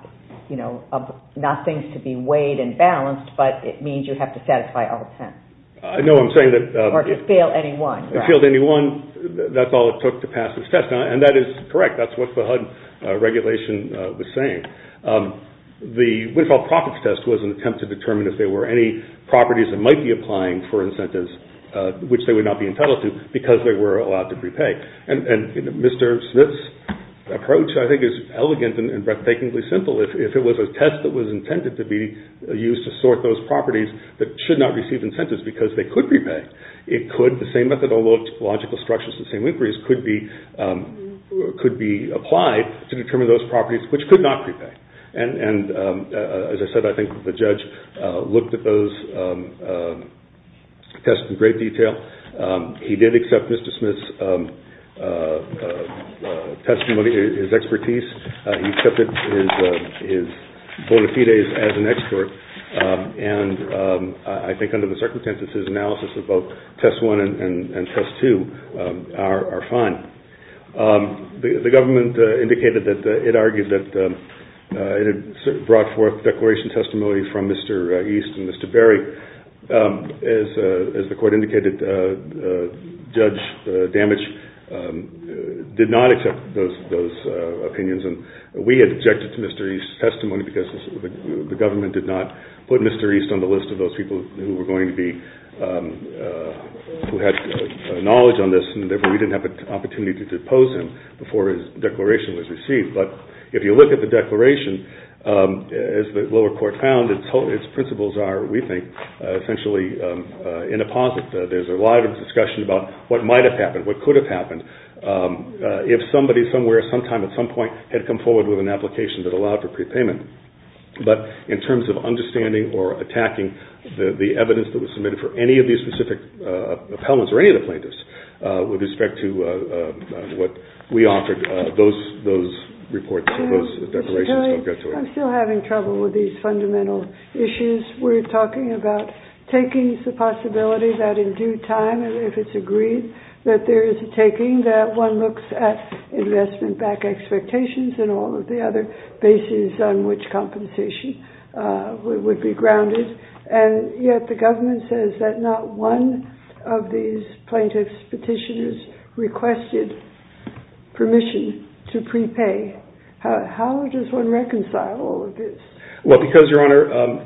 things to be weighed and balanced, but it means you have to satisfy all ten? I know what I'm saying. Or to fail any one. To fail any one. That's all it took to pass this test. And that is correct. That's what the HUD regulation was saying. The windfall profits test was an attempt to determine if there were any properties that might be applying for incentives which they would not be entitled to because they were allowed to prepay. And Mr. Smith's approach, I think, is elegant and breathtakingly simple. If it was a test that was intended to be used to sort those properties that should not receive incentives because they could prepay, it could, the same methodological structures, the same inquiries, could be applied to determine those properties which could not prepay. And as I said, I think the judge looked at those tests in great detail. He did accept Mr. Smith's testimony, his expertise. He accepted his bona fides as an expert. And I think under the circumstances of his analysis, both test one and test two are fine. The government indicated that it argued that it had brought forth declaration of testimony from Mr. East and Mr. Berry. As the court indicated, the judge damaged, did not accept those opinions. And we objected to Mr. East's testimony because the government did not put Mr. East on the list of those people who were going to be, who had knowledge on this and that we didn't have an opportunity to propose him before his declaration was received. But if you look at the declaration, as the lower court found, its principles are, we think, essentially in a positive. There's a lot of discussion about what might have happened, what could have happened. If somebody, somewhere, sometime, at some point, had come forward with an application that allowed for prepayment. But in terms of understanding or attacking the evidence that was submitted for any of these specific appellants or any of the plaintiffs with respect to what we offered, those reports, those declarations don't get to it. I'm still having trouble with these fundamental issues. We're talking about taking the possibility that in due time, if it's agreed, that there is a taking that one looks at investment-backed expectations and all of the other bases on which compensation would be grounded. And yet the government says that not one of these plaintiffs' petitioners requested permission to prepay. How does one reconcile all of this? Well, because, Your Honor,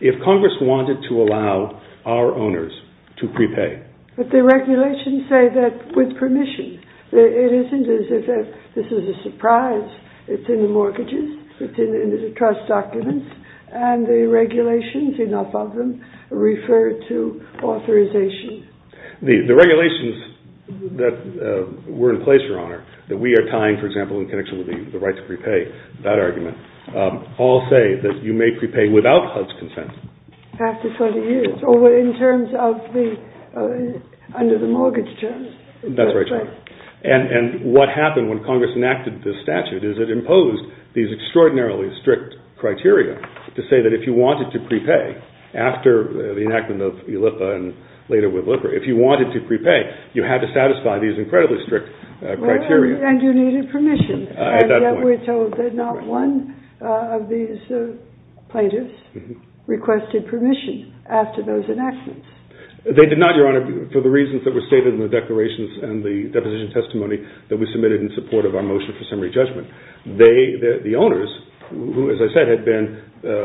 if Congress wanted to allow our owners to prepay... But the regulations say that with permission. It isn't as if this is a surprise. It's in the mortgages, it's in the trust documents, and the regulations, enough of them, refer to authorization. The regulations that were in place, Your Honor, that we are tying, for example, in connection with the right to prepay, that argument, all say that you may prepay without HUD's consent. After 30 years, or in terms of under the mortgage terms. That's right, Your Honor. And what happened when Congress enacted this statute is it imposed these extraordinarily strict criteria to say that if you wanted to prepay, after the enactment of ELIPA and later with LIPRA, if you wanted to prepay, you had to satisfy these incredibly strict criteria. And you needed permission. And yet we're told that not one of these plaintiffs requested permission after those enactments. They did not, Your Honor, for the reasons that were stated in the declarations and the deposition testimony that we submitted in support of our motion for summary judgment. The owners, who, as I said, had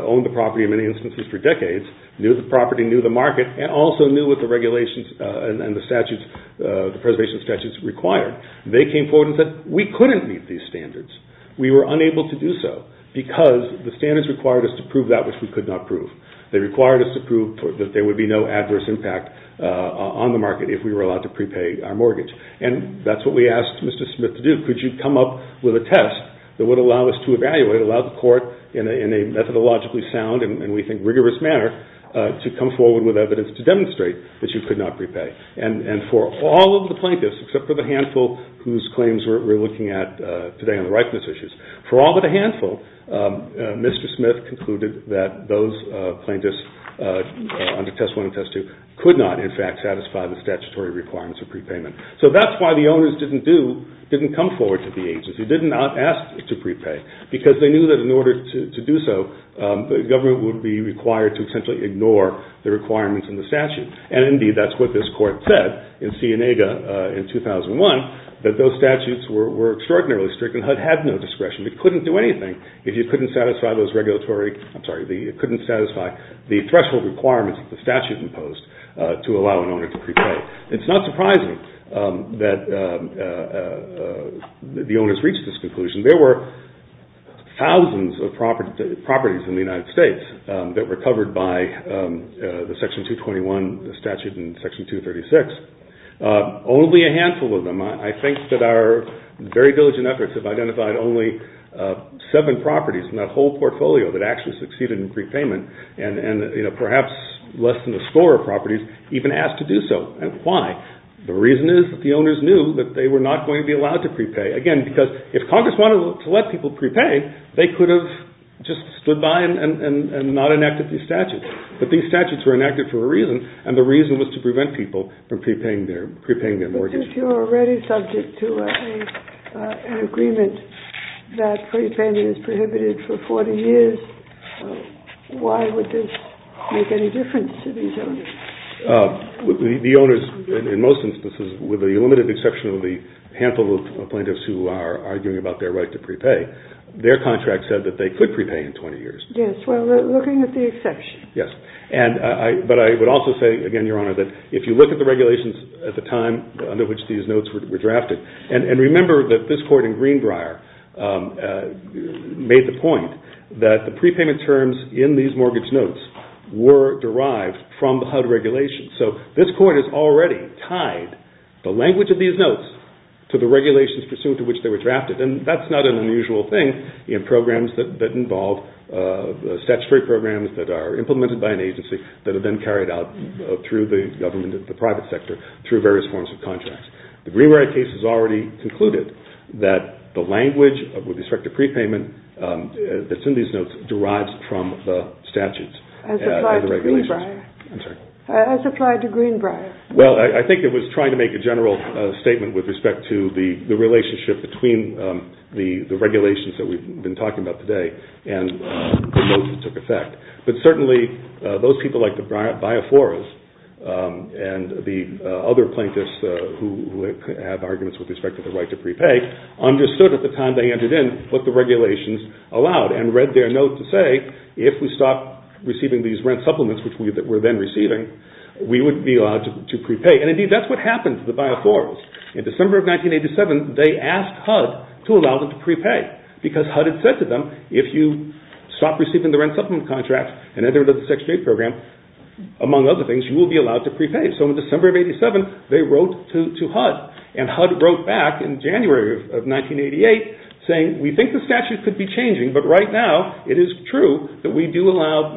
owned the property in many instances for decades, knew the property, knew the market, and also knew what the regulations and the preservation statutes required. They came forward with it. We couldn't meet these standards. We were unable to do so because the standards required us to prove that which we could not prove. They required us to prove that there would be no adverse impact on the market if we were allowed to prepay our mortgage. And that's what we asked Mr. Smith to do. Could you come up with a test that would allow us to evaluate, allow the court in a methodologically sound and we think rigorous manner to come forward with evidence to demonstrate that you could not prepay. And for all of the plaintiffs, except for the handful whose claims we're looking at today on the rightfulness issues, for all but a handful, Mr. Smith concluded that those plaintiffs on the testimony test could not, in fact, satisfy the statutory requirements of prepayment. So that's why the owners didn't come forward to the agency, did not ask to prepay because they knew that in order to do so, the government would be required to essentially ignore the requirements in the statute. And indeed, that's what this court said in Cienega in 2001, that those statutes were extraordinarily strict and HUD had no discretion. It couldn't do anything if you couldn't satisfy those regulatory, I'm sorry, couldn't satisfy the threshold requirements that the statute imposed to allow an owner to prepay. It's not surprising that the owners reached this conclusion. There were thousands of properties in the United States that were covered by the Section 221 statute and Section 236. Only a handful of them, I think that our very diligent efforts have identified only seven properties in that whole portfolio that actually succeeded in prepayment and perhaps less than the score of properties even asked to do so. And why? The reason is that the owners knew that they were not going to be allowed to prepay. Again, because if Congress wanted to let people prepay, they could have just stood by and not enacted these statutes. But these statutes were enacted for a reason, and the reason was to prevent people from prepaying their mortgage. But if you're already subject to an agreement that prepayment is prohibited for 40 years, why would this make any difference to these owners? The owners, in most instances, with the limited exception of the handful of plaintiffs who are arguing about their right to prepay, their contract said that they could prepay in 20 years. Yes, well, looking at the exception. Yes, but I would also say, again, Your Honor, that if you look at the regulations at the time under which these notes were drafted, and remember that this court in Greenbrier made the point that the prepayment terms in these mortgage notes were derived from the HUD regulations. So this court has already tied the language of these notes to the regulations pursuant to which they were drafted, and that's not an unusual thing in programs that involve statutory programs that are implemented by an agency that have been carried out through the government and the private sector through various forms of contracts. The Greenbrier case has already concluded that the language with respect to prepayment that's in these notes derives from the statutes and the regulations. As applied to Greenbrier. Well, I think it was trying to make a general statement with respect to the relationship between the regulations that we've been talking about today and the notes that took effect. But certainly those people like the Biaforas and the other plaintiffs who have arguments with respect to the right to prepay understood at the time they entered in what the regulations allowed and read their notes to say if we stop receiving these rent supplements that we're then receiving, we wouldn't be allowed to prepay. And indeed, that's what happened to the Biaforas. In December of 1987, they asked HUD to allow them to prepay, because HUD had said to them, if you stop receiving the rent supplement contract and enter into the Section 8 program, among other things, you will be allowed to prepay. So in December of 1987, they wrote to HUD. And HUD wrote back in January of 1988 saying, we think the statute could be changing, but right now it is true that we do allow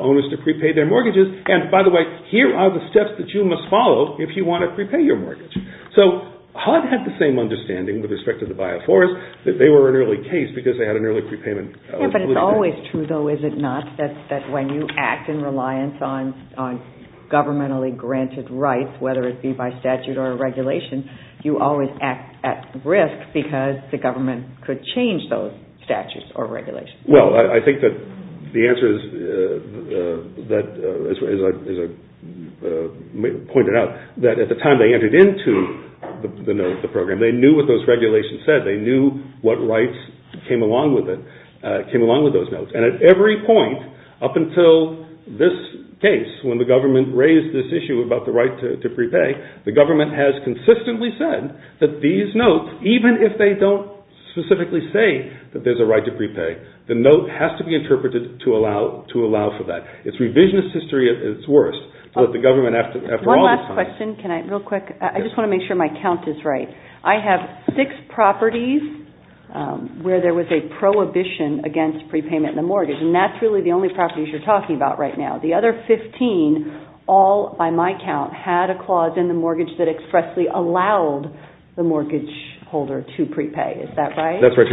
owners to prepay their mortgages. And by the way, here are the steps that you must follow if you want to prepay your mortgage. So HUD had the same understanding with respect to the Biaforas, that they were an early case because they had an early prepayment. But it's always true, though, is it not, that when you act in reliance on governmentally granted rights, whether it be by statute or regulation, you always act at risk because the government could change those statutes or regulations. Well, I think that the answer is, as I pointed out, that at the time they entered into the program, they knew what those regulations said, they knew what rights came along with those notes. And at every point up until this case, when the government raised this issue about the right to prepay, the government has consistently said that these notes, even if they don't specifically say that there's a right to prepay, the note has to be interpreted to allow for that. It's revisionist history at its worst. One last question, real quick. I just want to make sure my count is right. I have six properties where there was a prohibition against prepayment in the mortgage, and that's really the only properties you're talking about right now. The other 15 all, by my count, had a clause in the mortgage that expressly allowed the mortgage holder to prepay. Is that right? That's right.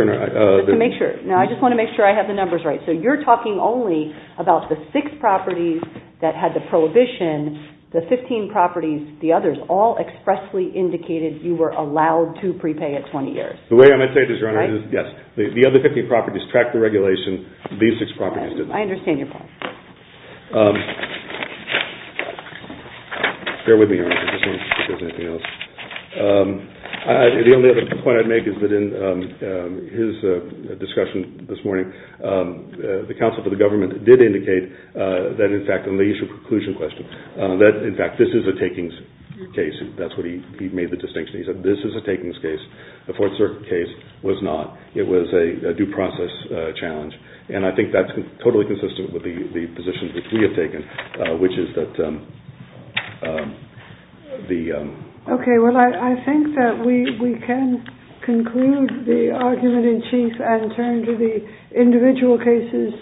Now, I just want to make sure I have the numbers right. So you're talking only about the six properties that had the prohibition. And the 15 properties, the others, all expressly indicated you were allowed to prepay at 20 years. The way I'm going to say it is, yes, the other 15 properties tracked the regulation. These six properties didn't. I understand your point. Bear with me here. The only other point I'd make is that in his discussion this morning, the counsel for the government did indicate that, in fact, in the issue of preclusion question, that, in fact, this is a takings case. That's what he made the distinction. He said this is a takings case. The Fourth Circuit case was not. It was a due process challenge. And I think that's totally consistent with the position that we have taken, which is that the...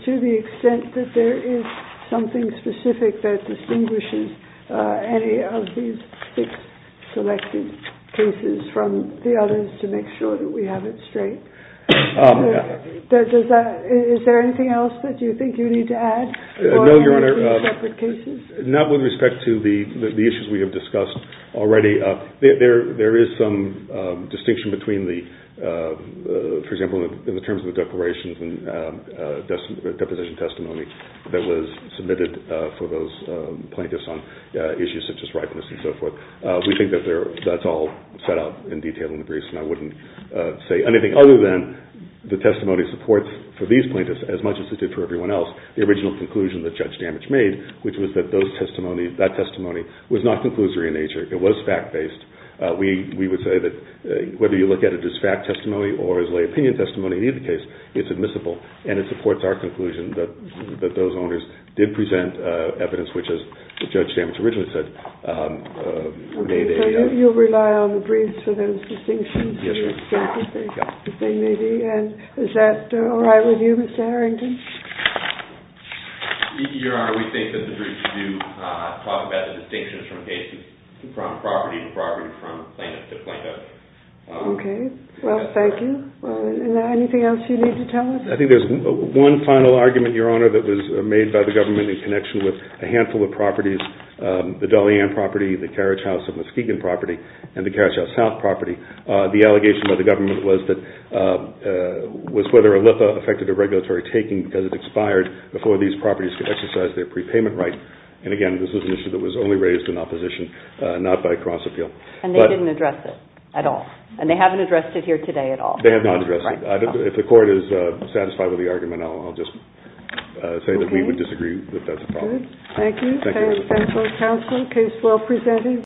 to the extent that there is something specific that distinguishes any of these six selected cases from the others to make sure that we have it straight. Is there anything else that you think you need to add? No, Your Honor. Not with respect to the issues we have discussed already. There is some distinction between the, for example, in the terms of the declarations and deposition testimony that was submitted for those plaintiffs on issues such as ripeness and so forth. We think that that's all set out in detail in the briefs, and I wouldn't say anything other than the testimony supports, for these plaintiffs as much as it did for everyone else, the original conclusion that Judge Danich made, which was that that testimony was not conclusory in nature. It was fact-based. We would say that whether you look at it as fact testimony or as lay opinion testimony in either case, it's admissible, and it supports our conclusion that those owners did present evidence which, as Judge Danich originally said, made a... Okay, so you rely on the briefs for those distinctions? Yes, we do. And is that all right with you, Mr. Harrington? Your Honor, we think that the briefs do talk about the distinctions from cases, from property to property, from plaintiff to plaintiff. Okay. Well, thank you. Is there anything else you need to tell us? I think there's one final argument, Your Honor, that was made by the government in connection with a handful of properties, the Dolly Ann property, the Carriage House and Muskegon property, and the Carriage House South property. The allegation by the government was whether a LIPA affected the regulatory taking because it expired before these properties could exercise their prepayment right. And, again, this is an issue that was only raised in opposition, not by cross-appeal. And they didn't address it at all? And they haven't addressed it here today at all? They have not addressed it. If the Court is satisfied with the argument, I'll just say that we would disagree with that. Okay. Thank you. Thank you, Counsel. Case well presented.